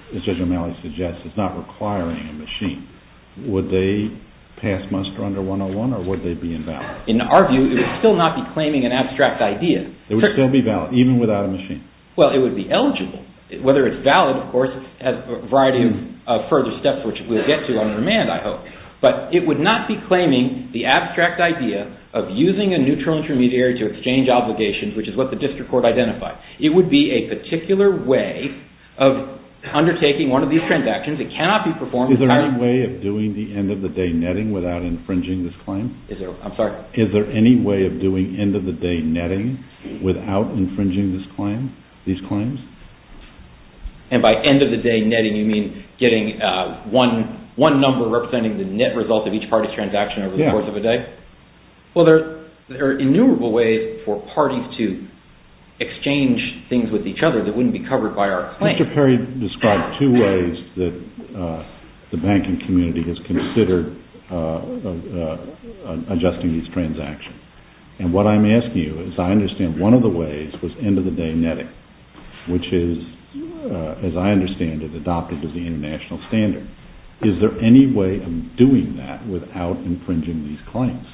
as Judge O'Malley suggests, as not requiring a machine. Would they pass muster under 101 or would they be invalid? In our view, it would still not be claiming an abstract idea. It would still be valid, even without a machine? Well, it would be eligible. Whether it's valid, of course, has a variety of further steps which we'll get to on remand, I hope. But it would not be claiming the abstract idea of using a neutral intermediary to exchange obligations, which is what the district court identified. It would be a particular way of undertaking one of these transactions. Is there any way of doing the end-of-the-day netting without infringing this claim? I'm sorry? Is there any way of doing end-of-the-day netting without infringing these claims? And by end-of-the-day netting, you mean getting one number representing the net result of each party's transaction over the course of a day? Well, there are innumerable ways for parties to exchange things with each other that wouldn't be covered by our claim. Mr. Perry described two ways that the banking community has considered adjusting these transactions. And what I'm asking you is, I understand one of the ways was end-of-the-day netting, which is, as I understand it, adopted as the international standard. Is there any way of doing that without infringing these claims?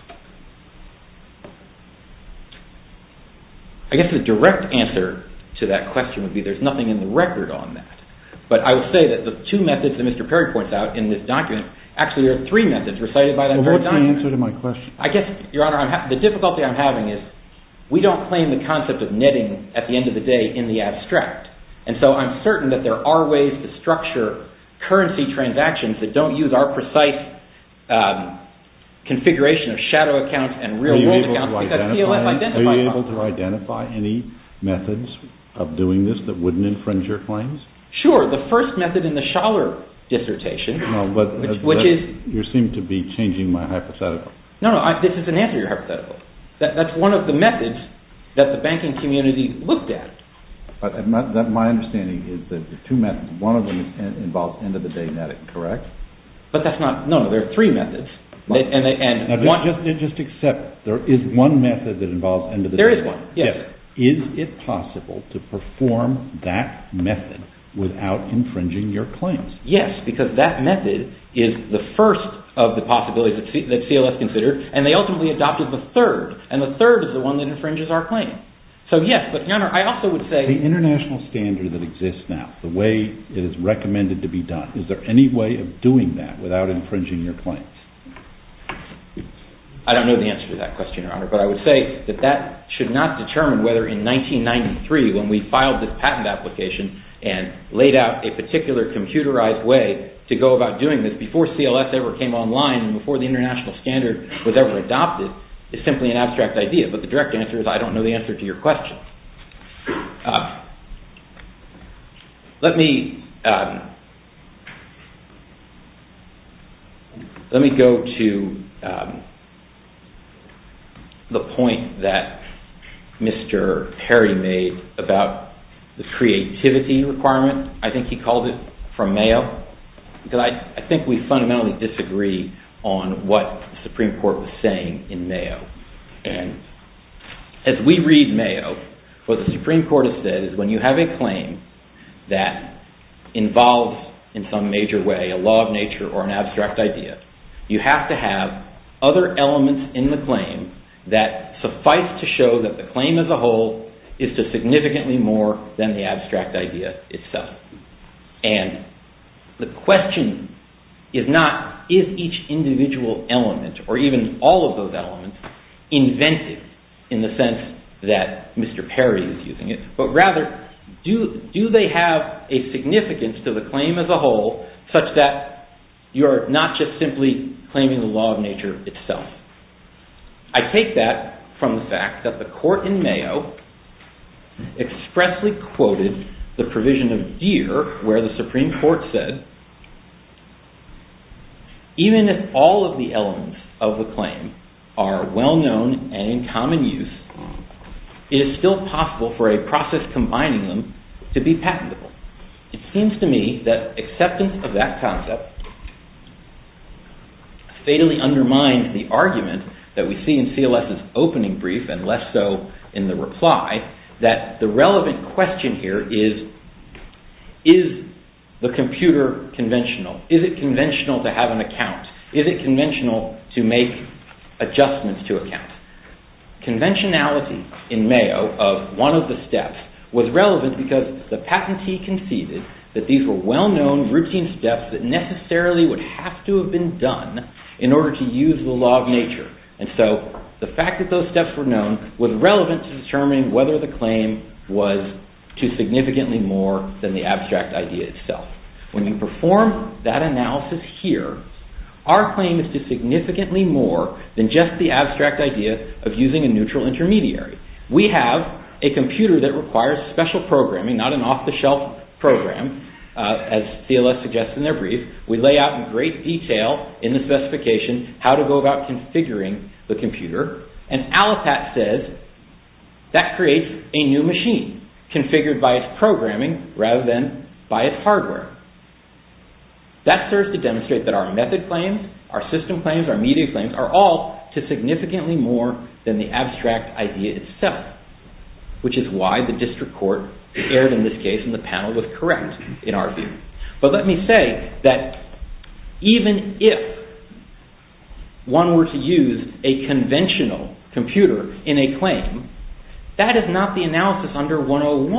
I guess the direct answer to that question would be that there's nothing in the record on that. But I would say that the two methods that Mr. Perry points out in this document, actually there are three methods recited by the entire document. Well, what's the answer to my question? I guess, Your Honor, the difficulty I'm having is we don't claim the concept of netting at the end of the day in the abstract. And so I'm certain that there are ways to structure currency transactions that don't use our precise configuration of shadow accounts and real-world accounts because the TLF identifies them. Are you able to identify any methods of doing this that wouldn't infringe your claims? Sure. The first method in the Schaller dissertation, which is... No, but you seem to be changing my hypothetical. No, no. This is an anterior hypothetical. That's one of the methods that the banking community looked at. But my understanding is that the two methods, one of them involves end-of-the-day netting, correct? But that's not... No, there are three methods, and one... Now, just accept there is one method that involves end-of-the-day netting. There is one, yes. Is it possible to perform that method without infringing your claims? Yes, because that method is the first of the possibilities that CLF considered, and they ultimately adopted the third, and the third is the one that infringes our claim. So, yes, but, Your Honor, I also would say... The international standard that exists now, the way it is recommended to be done, is there any way of doing that without infringing your claims? I don't know the answer to that question, Your Honor, but I would say that that should not determine whether in 1993, when we filed this patent application and laid out a particular computerized way to go about doing this before CLF ever came online and before the international standard was ever adopted, is simply an abstract idea. But the direct answer is I don't know the answer to your question. Let me... Let me go to... to the point that Mr. Perry made about the creativity requirement. I think he called it from Mayo. I think we fundamentally disagree on what the Supreme Court was saying in Mayo. And as we read Mayo, what the Supreme Court has said is when you have a claim that involves, in some major way, a law of nature or an abstract idea, you have to have other elements in the claim that suffice to show that the claim as a whole is just significantly more than the abstract idea itself. And the question is not, is each individual element, or even all of those elements, invented in the sense that Mr. Perry is using it, but rather, do they have a significance to the claim as a whole such that you're not just simply claiming the law of nature itself? I take that from the fact that the court in Mayo expressly quoted the provision of deer where the Supreme Court said, even if all of the elements of the claim are well-known and in common use, it is still possible for a process combining them to be patentable. It seems to me that acceptance of that concept fatally undermines the argument that we see in CLS's opening brief, and less so in the reply, that the relevant question here is, is the computer conventional? Is it conventional to have an account? Is it conventional to make adjustments to accounts? Conventionality in Mayo of one of the steps was relevant because the patentee conceded that these were well-known routine steps that necessarily would have to have been done in order to use the law of nature. And so, the fact that those steps were known was relevant to determine whether the claim was to significantly more than the abstract idea itself. When you perform that analysis here, our claim is to significantly more than just the abstract idea of using a neutral intermediary. We have a computer that requires special programming, not an off-the-shelf program, as CLS suggests in their brief. We lay out in great detail in the specification how to go about configuring the computer, and Allocat says that creates a new machine, configured by its programming rather than by its hardware. That serves to demonstrate that our method claims, our system claims, our media claims, are all to significantly more than the abstract idea itself, which is why the district court prepared in this case, and the panel was correct in our view. But let me say that even if one were to use a conventional computer in a claim, that is not the analysis under 101.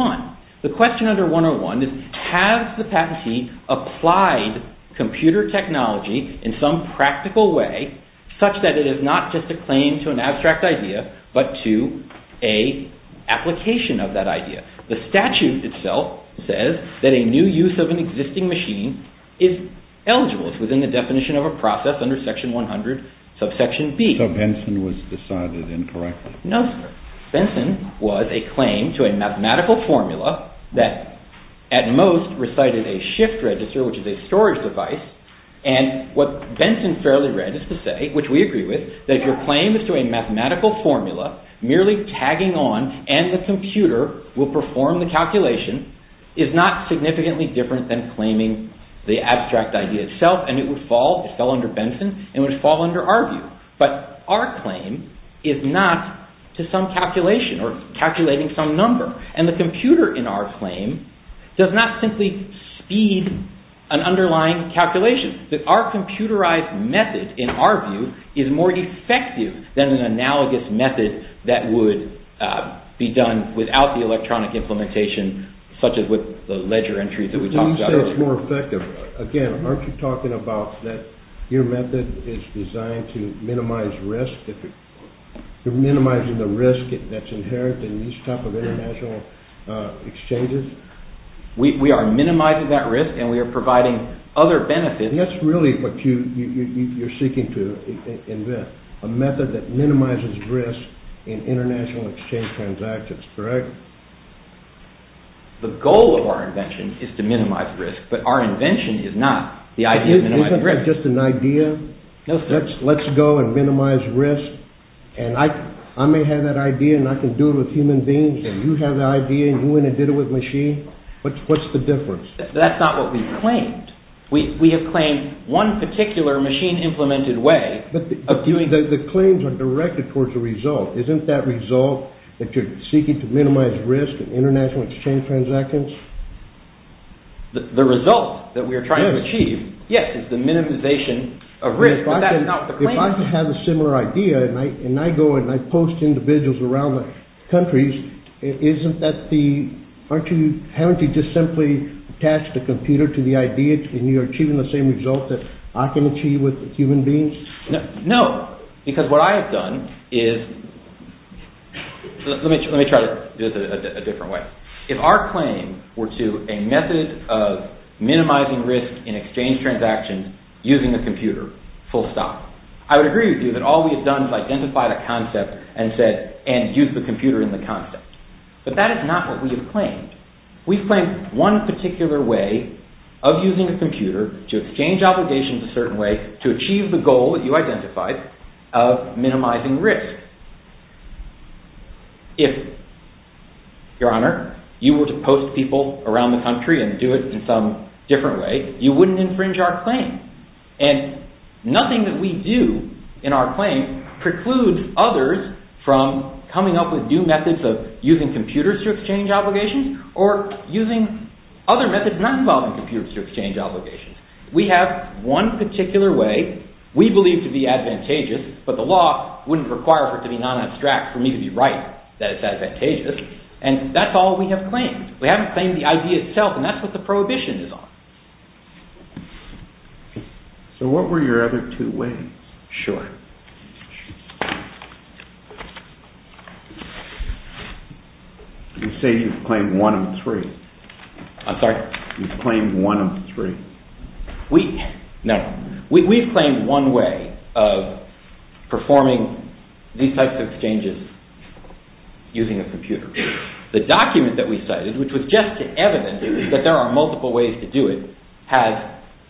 The question under 101 is, has the patentee applied computer technology in some practical way, such that it is not just a claim to an abstract idea, but to an application of that idea. The statute itself says that a new use of an existing machine is eligible within the definition of a process under section 100, subsection B. So Benson was decided incorrectly. No, Benson was a claim to a mathematical formula that at most recited a shift register, which is a storage device, and what Benson fairly read is to say, which we agree with, that your claim is to a mathematical formula merely tagging on, and the computer will perform the calculation, is not significantly different than claiming the abstract idea itself, and it would fall under Benson, and it would fall under our view. But our claim is not to some calculation or calculating some number, and the computer in our claim does not simply speed an underlying calculation. Our computerized method, in our view, is more effective than the analogous method that would be done without the electronic implementation such as with the ledger entries that we talked about. When you say it's more effective, again, aren't you talking about that your method is designed to minimize risk? Minimizing the risk that's inherent in these type of international exchanges? We are minimizing that risk, and we are providing other benefits. And that's really what you're seeking to invent, a method that minimizes risk in international exchange transactions, correct? The goal of our invention is to minimize risk, but our invention is not the idea of minimizing risk. Isn't that just an idea? Let's go and minimize risk, and I may have that idea, and I can do it with human beings, and you have the idea, and you want to do it with a machine. What's the difference? That's not what we've claimed. We have claimed one particular machine-implemented way. The claims are directed towards the result. Isn't that result that you're seeking to minimize risk in international exchange transactions? The result that we are trying to achieve, yes, is the minimization of risk. If I have a similar idea, and I go and I post individuals around the countries, isn't that the, aren't you, haven't you just simply attached a computer to the idea and you're achieving the same result that I can achieve with human beings? No, because what I have done is, let me try to do this in a different way. If our claim were to a method of minimizing risk in exchange transactions using a computer, full stop, I would agree with you that all we have done is identify the concept and said, and use the computer in the concept. But that is not what we have claimed. We've claimed one particular way of using a computer to exchange obligations a certain way to achieve the goal that you identified of minimizing risk. If, your honor, you were to post people around the country and do it in some different way, you wouldn't infringe our claim. And nothing that we do in our claim precludes others from coming up with new methods of using computers to exchange obligations or using other methods that aren't involving computers to exchange obligations. We have one particular way we believe to be advantageous, but the law wouldn't require for it to be non-abstract for me to be right that it's advantageous, and that's all we have claimed. We haven't claimed the idea itself, and that's what the prohibition is on. So what were your other two ways? Sure. You say you've claimed one of three. I'm sorry? You've claimed one of three. We, no. We've claimed one way of performing these types of exchanges using a computer. The document that we cited, which was just an evidence that there are multiple ways to do it, has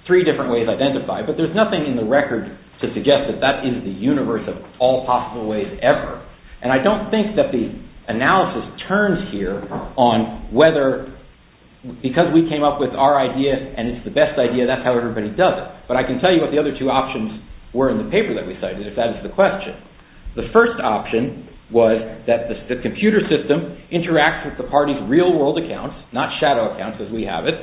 three different ways identified, but there's nothing in the record to suggest that that is the universe of all possible ways ever. And I don't think that the analysis turns here on whether, because we came up with our idea and it's the best idea, that's how everybody does it. But I can tell you what the other two options were in the paper that we cited, if that is the question. The first option was that the computer system interacts with the party's real world accounts, not shadow accounts as we have it,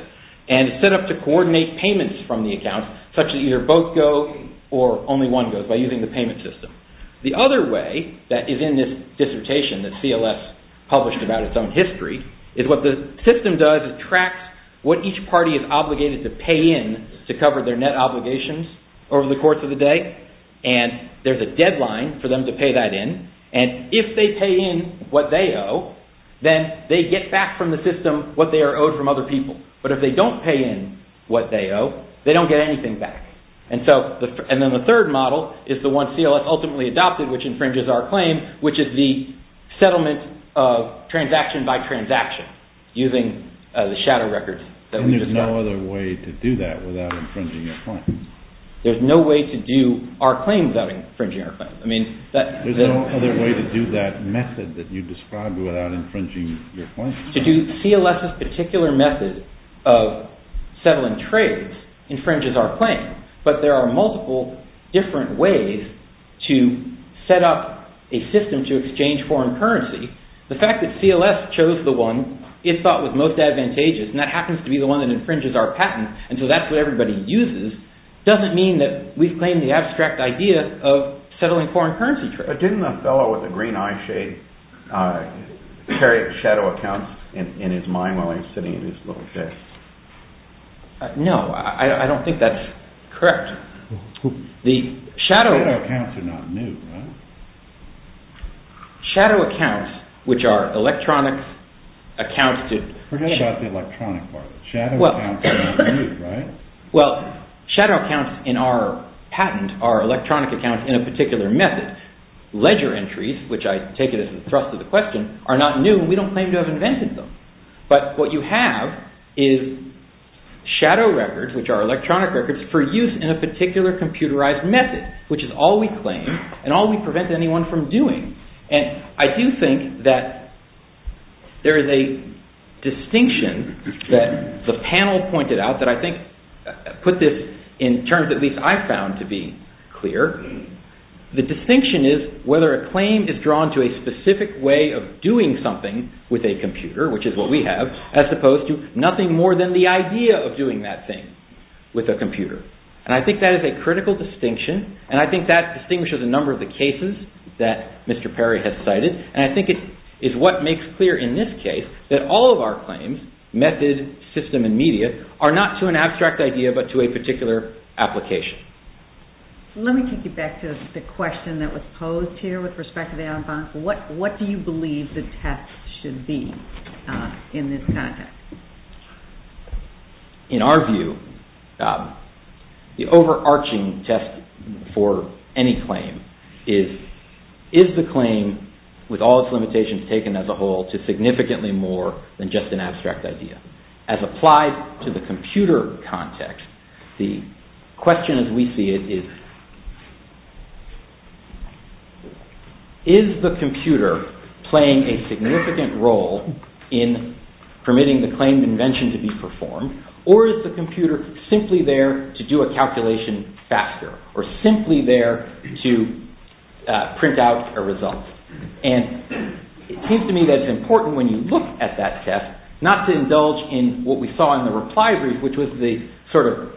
and set up to coordinate payments from the accounts, such that either both go or only one goes by using the payment system. The other way that is in this dissertation that CLS published about its own history is what the system does is tracks what each party is obligated to pay in to cover their net obligations over the course of the day. And there's a deadline for them to pay that in. And if they pay in what they owe, then they get back from the system what they are owed from other people. But if they don't pay in what they owe, they don't get anything back. And then the third model is the one CLS ultimately adopted, which infringes our claim, which is the settlement of transaction by transaction using the shadow records. And there's no other way to do that without infringing your claim. There's no way to do our claim without infringing our claim. There's no other way to do that method that you described without infringing your claim. To do CLS's particular method of settling trades infringes our claim. But there are multiple different ways to set up a system to exchange foreign currency. The fact that CLS chose the one it thought was most advantageous, and that happens to be the one that infringes our patent, and so that's what everybody uses, doesn't mean that we've claimed the abstract idea of settling foreign currency trades. But didn't that fellow with the green eye shade carry shadow accounts in his mind while he was sitting in his little chair? No, I don't think that's correct. Shadow accounts are not new, right? Shadow accounts, which are electronic accounts... Forget about the electronic part. Shadow accounts are not new, right? Well, shadow accounts in our patent are electronic accounts in a particular method. Ledger entries, which I take it as the thrust of the question, are not new, and we don't claim to have invented them. But what you have is shadow records, which are electronic records, for use in a particular computerized method, which is all we claim, and all we prevent anyone from doing. And I do think that there is a distinction that the panel pointed out that I think put this in terms at least I found to be clear. The distinction is whether a claim is drawn to a specific way of doing something with a computer, which is what we have, as opposed to nothing more than the idea of doing that thing with a computer. And I think that is a critical distinction, and I think that distinguishes a number of the cases that Mr. Perry has cited, and I think it is what makes clear in this case that all of our claims, method, system, and media, are not to an abstract idea, but to a particular application. Let me take you back to the question that was posed here with respect to the ad bonus. What do you believe the test should be in this context? In our view, the overarching test for any claim is the claim, with all its limitations taken as a whole, to significantly more than just an abstract idea. As applied to the computer context, the question as we see it is, is the computer playing a significant role in permitting the claim invention to be performed, or is the computer simply there to do a calculation faster, or simply there to print out a result? And it seems to me that it's important when you look at that test not to indulge in what we saw in the replies, which was the sort of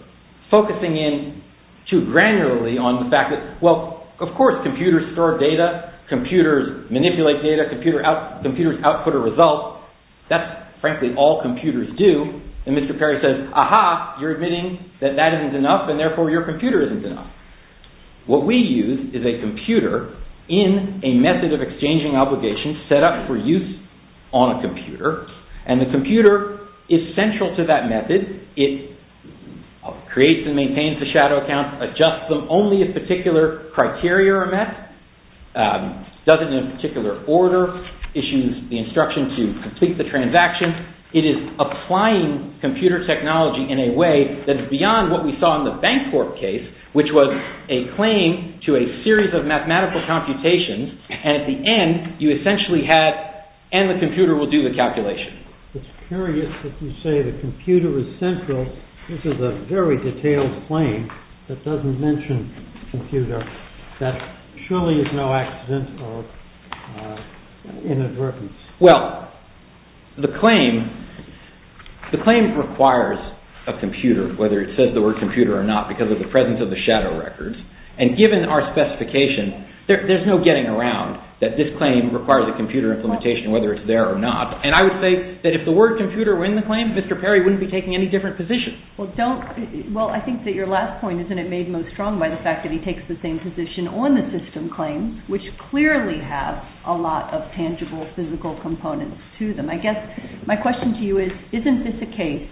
focusing in too granularly on the fact that, well, of course, computers store data. Computers manipulate data. Computers output a result. That's, frankly, all computers do. And Mr. Perry says, aha, you're admitting that that isn't enough, and therefore your computer isn't enough. What we use is a computer in a method of exchanging obligations set up for use on a computer, and the computer is central to that method. It creates and maintains the shadow account, adjusts them only if particular criteria are met, does it in a particular order, issues the instruction to complete the transaction. It is applying computer technology in a way that is beyond what we saw in the Bancorp case, which was a claim to a series of mathematical computations, and at the end, you essentially had, and the computer will do the calculation. It's curious that you say the computer is central. This is a very detailed claim that doesn't mention computer. That surely is no accidental inadvertence. Well, the claim, the claim requires a computer, whether it says the word computer or not, because of the presence of the shadow records. And given our specification, there's no getting around that this claim requires a computer implementation, whether it's there or not. And I would say that if the word computer were in the claim, Mr. Perry wouldn't be taking any different positions. Well, I think that your last point isn't made most strong by the fact that he takes the same position on the system claim, which clearly has a lot of tangible physical components to them. I guess my question to you is, isn't this a case,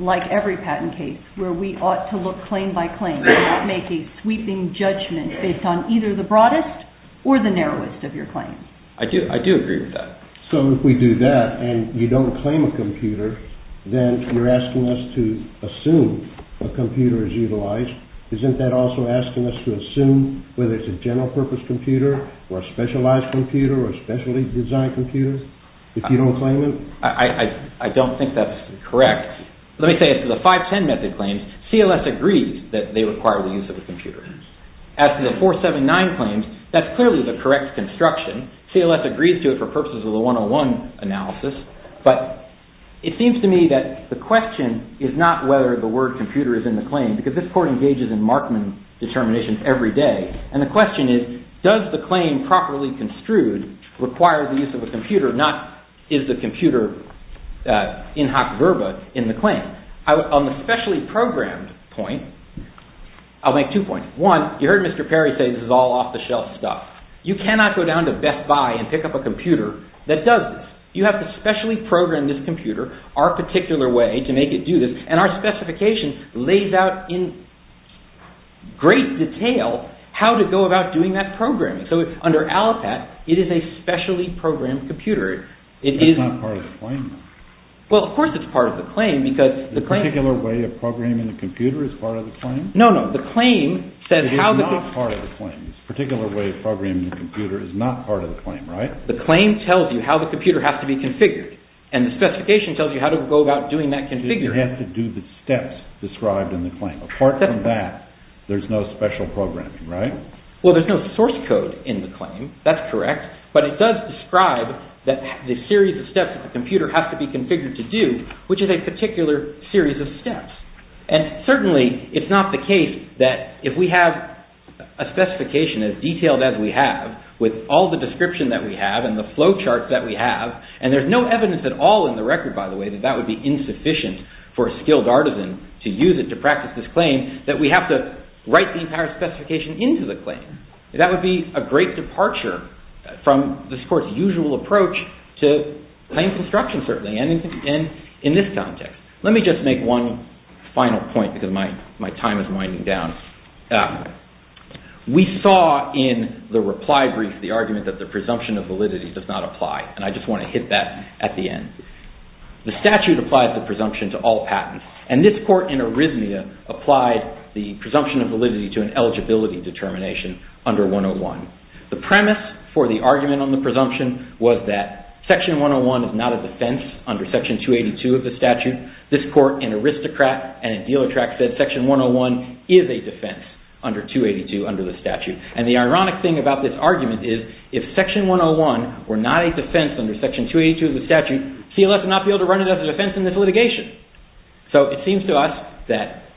like every patent case, where we ought to look claim by claim and not make a sweeping judgment based on either the broadest or the narrowest of your claims? I do agree with that. So if we do that and you don't claim a computer, then you're asking us to assume a computer is utilized. Isn't that also asking us to assume whether it's a general purpose computer or a specialized computer or a specially designed computer, if you don't claim it? I don't think that's correct. Let me say, for the 510 method claims, CLS agrees that they require the use of a computer. As for the 479 claims, that's clearly the correct construction. CLS agrees to it for purposes of the 101 analysis. But it seems to me that the question is not whether the word computer is in the claim because this court engages in Markman determination every day. And the question is, does the claim properly construed require the use of a computer, not is the computer in hot verba in the claim? On the specially I'll make two points. One, you heard Mr. Perry say this is all off-the-shelf stuff. You cannot go down to Best Buy and pick up a computer that does this. You have to specially program this computer our particular way to make it do this. And our specification lays out in great detail how to go about doing that programming. So, under ALAPAT, it is a specially programmed computer. It is- It's not part of the claim. Well, of course it's part of the claim because the claim- The particular way of programming the computer is part of the claim? No, no. The claim says- It is not part of the claim. The particular way of programming the computer is not part of the claim, right? The claim tells you how the computer has to be configured. And the specification tells you how to go about doing that configuring. But you have to do the steps described in the claim. Apart from that, there's no special programming, right? Well, there's no source code in the claim. That's correct. But it does describe that the series of steps that the computer has to be configured to do, which is a particular series of steps. And certainly, it's not the case that if we have a specification as detailed as we have with all the description that we have and the flowcharts that we have, and there's no evidence at all in the record, by the way, that that would be insufficient for a skilled artisan to use it to practice this claim, that we have to write the entire specification into the claim. That would be a great departure from this course's usual approach to plain construction, certainly, and in this context. Let me just make one final point because my time is winding down. We saw, in the reply brief, the argument that the presumption of validity does not apply, and I just want to hit that at the end. The statute applies the presumption to all patents, and this court in Arismia applied the presumption of validity to an eligibility determination under 101. The premise for the argument on the presumption was that Section 101 is not a defense under Section 282 of the statute. This court, an aristocrat and a dealer track said Section 101 is a defense under 282 under the statute, and the ironic thing about this argument is if Section 101 were not a defense under Section 282 of the statute, CLS would not be able to run it as a defense in this litigation. It seems to us that,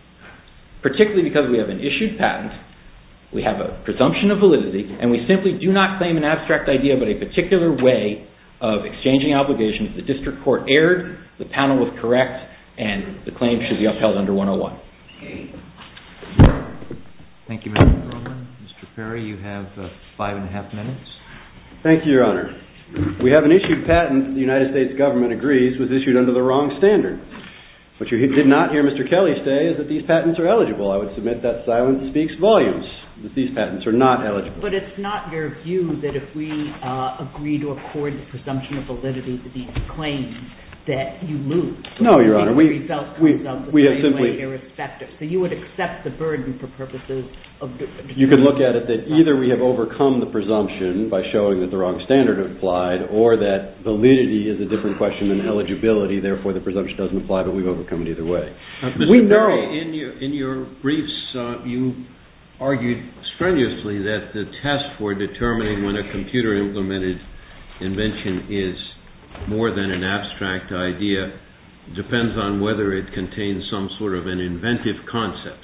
particularly because we have an issued patent, we have a presumption of validity, and we simply do not claim an abstract idea but a particular way of exchanging obligations. The district court erred, the panel was correct, and the claim should be upheld under 101. Thank you, Mr. Cronin. Mr. Perry, five and a half minutes. Thank you, Your Honor. We have an issued patent the United States government agrees was issued under the wrong standard. What you did not hear Mr. Kelly say is that these patents are eligible. I would submit that silence speaks volumes that these patents are not eligible. But it's not your view that if we agree to accord the presumption of validity to these claims that you lose. No, Your Honor. We have simply So you would accept the burden for purposes of You can look at it that either we have overcome the presumption by showing that the wrong standard is applied or that validity is a different question than eligibility therefore the presumption doesn't apply but we've overcome it either way. Mr. Perry, in your briefs you argued strenuously that the test for determining when a computer implemented invention is more than an abstract idea depends on whether it contains some sort of an inventive concept.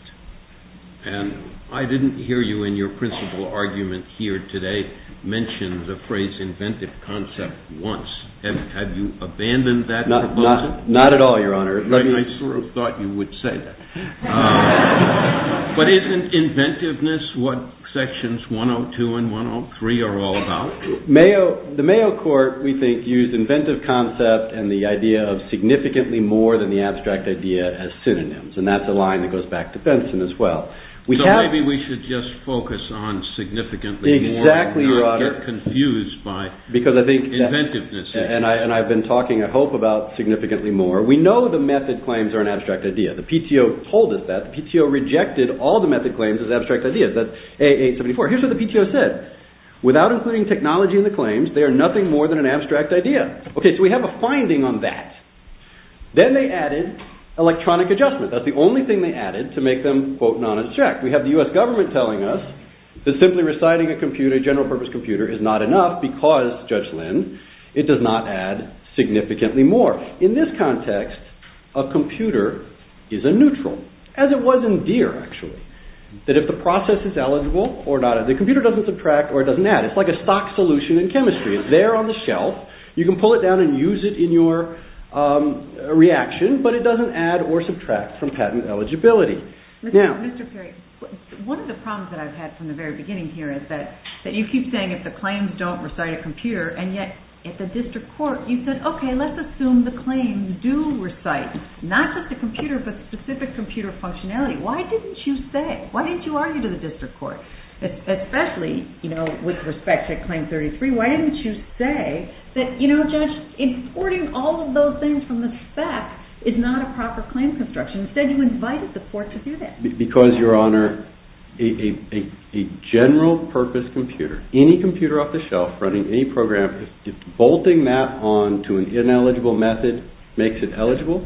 And I didn't hear you in your principal argument here today mention the phrase inventive concept once. Have you abandoned that Not at all, Your Honor. I sort of thought But isn't inventiveness what Sections 102 and 103 are all about? The Mayo Court we think used inventive concepts to determine whether a computer implemented invention is more than an abstract idea and the idea of significantly more than the abstract idea as synonyms. And that's a line that goes back to Benson as well. So maybe we should just focus on significantly more and not get confused by inventiveness. And I've been talking, I hope, about significantly more. We know the method claims are an abstract idea. The PTO told us that. The PTO rejected all the method claims as abstract ideas. That's A874. Here's what the PTO said. Without including technology in the claims they are nothing more than an abstract idea. Okay, so we have a finding on that. Then they added electronic adjustment. That's the only thing they added to make them quote and honor the check. We have the U.S. government telling us that simply reciting a general purpose computer is not enough because, Judge Lin, it does not add significantly more. In this context, a computer is a neutral. As it was in gear, actually. That if the process is eligible or not, the computer doesn't subtract or it doesn't add. It's like a stock solution in chemistry. It's there on the shelf. You can pull it down and use it in your reaction, but it doesn't add or subtract from patent eligibility. Now... Mr. Perry, one of the problems that I've had from the very beginning here is that you keep saying if the claims don't recite a computer and yet at the district court you said, okay, let's assume the claims do recite not just the computer but specific computer functionality. Why didn't you say? Why didn't you argue with the district court? Especially, you know, with respect to Claim 33, why didn't you say that, you know, just importing all of those things from the spec is not a proper claim construction. Instead, you invite the court to do that. Because, Your Honor, a general-purpose computer, any computer off the shelf onto an ineligible method makes it eligible,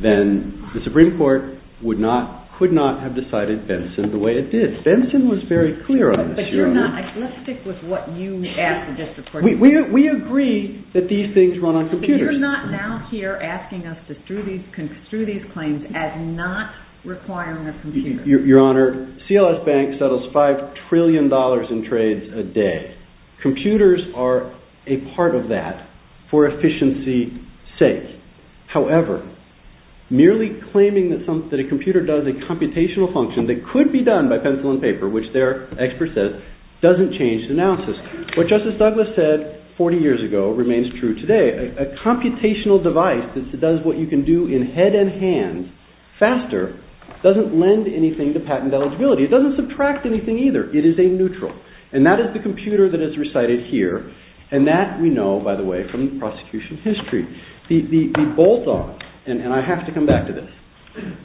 then the Supreme Court would not, could not have decided that it's in the wrong category and it's not eligible. That's the way it is. Benson was very clear on this, Your Honor. But you're not, let's stick with what you asked the district court to do. We agree that these things run on computers. But you're not now here asking us to do these claims as not requiring the computer. Your Honor, CLS Bank settles five trillion dollars in trades a day. Computers are a part of that for efficiency sake. However, merely claiming that a computer does a computational function that could be done by pencil and paper, which their expert says, doesn't change the analysis. What Justice Douglas said 40 years ago remains true today. A computational device that does what you can do in head and hand faster doesn't lend anything to patent eligibility. It doesn't subtract anything either. It is a neutral. And that is the computer that is recited here. And that, we know, by the way, from the prosecution history. The bolt on, and I have to come back to this,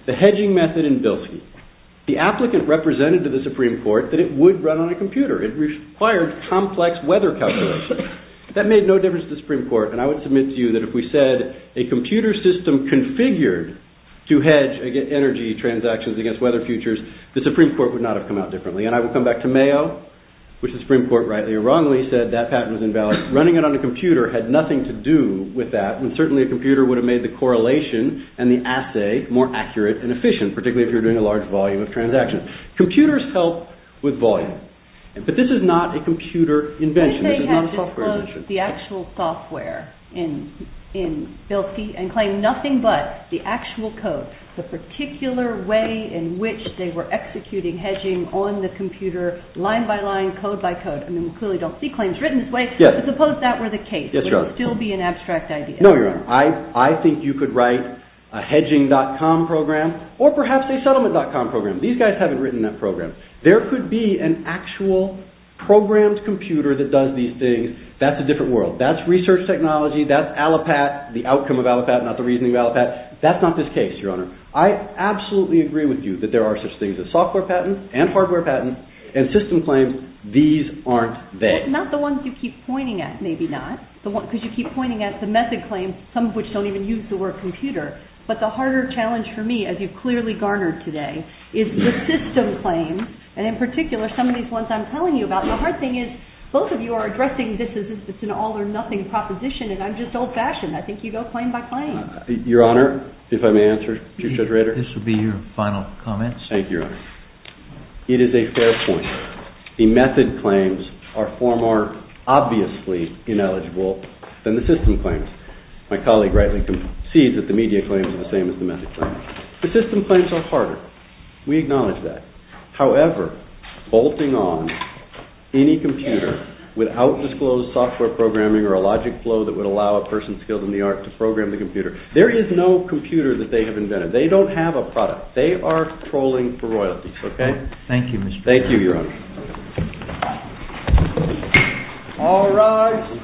the hedging method in Bilski. The applicant represented to the Supreme Court that it would run on a computer. It required complex weather calculations. That made no difference to the Supreme Court. And I would submit to you that if we said a computer system configured to hedge energy transactions against weather futures, the Supreme Court would not have come out differently. And I will come back to Mayo. Running it on a computer had nothing to do with that. Certainly a computer would have made the correlation and the assay more accurate and efficient. Computers help with volume. But this is not a computer invention. The actual software in Bilski, and claimed nothing but the actual code. The particular way in which they were executing hedging on the computer, line by line, code by code. I think you could write a hedging.com program or perhaps a settlement.com program. There could be an actual programmed computer that does these things. That's research technology. That's research technology. I absolutely agree with you that there are such things as software patents and hardware patents and system claims. These aren't they. Not the ones you keep pointing at, maybe not. You keep pointing at the method claims, some of which don't even use the word computer. But the harder challenge for me is the system claims and in particular some of these ones I'm telling you about. The hard thing is both of you are addressing this as an all or nothing proposition and I'm just old-fashioned. I think you go claim by claim. Your honor, if I may answer. It is a fair point. The method claims are far more obviously ineligible than the system claims. My colleague rightly concedes that the media claims are the same as the method claims. The system claims are harder. We acknowledge that. However, bolting on any computer without disclosed software programming or a logic flow that would allow a person skilled in the art to program the computer, there is no computer that they have invented. They don't have a They are trolling for royalties. Okay? Thank you, your honor. All right.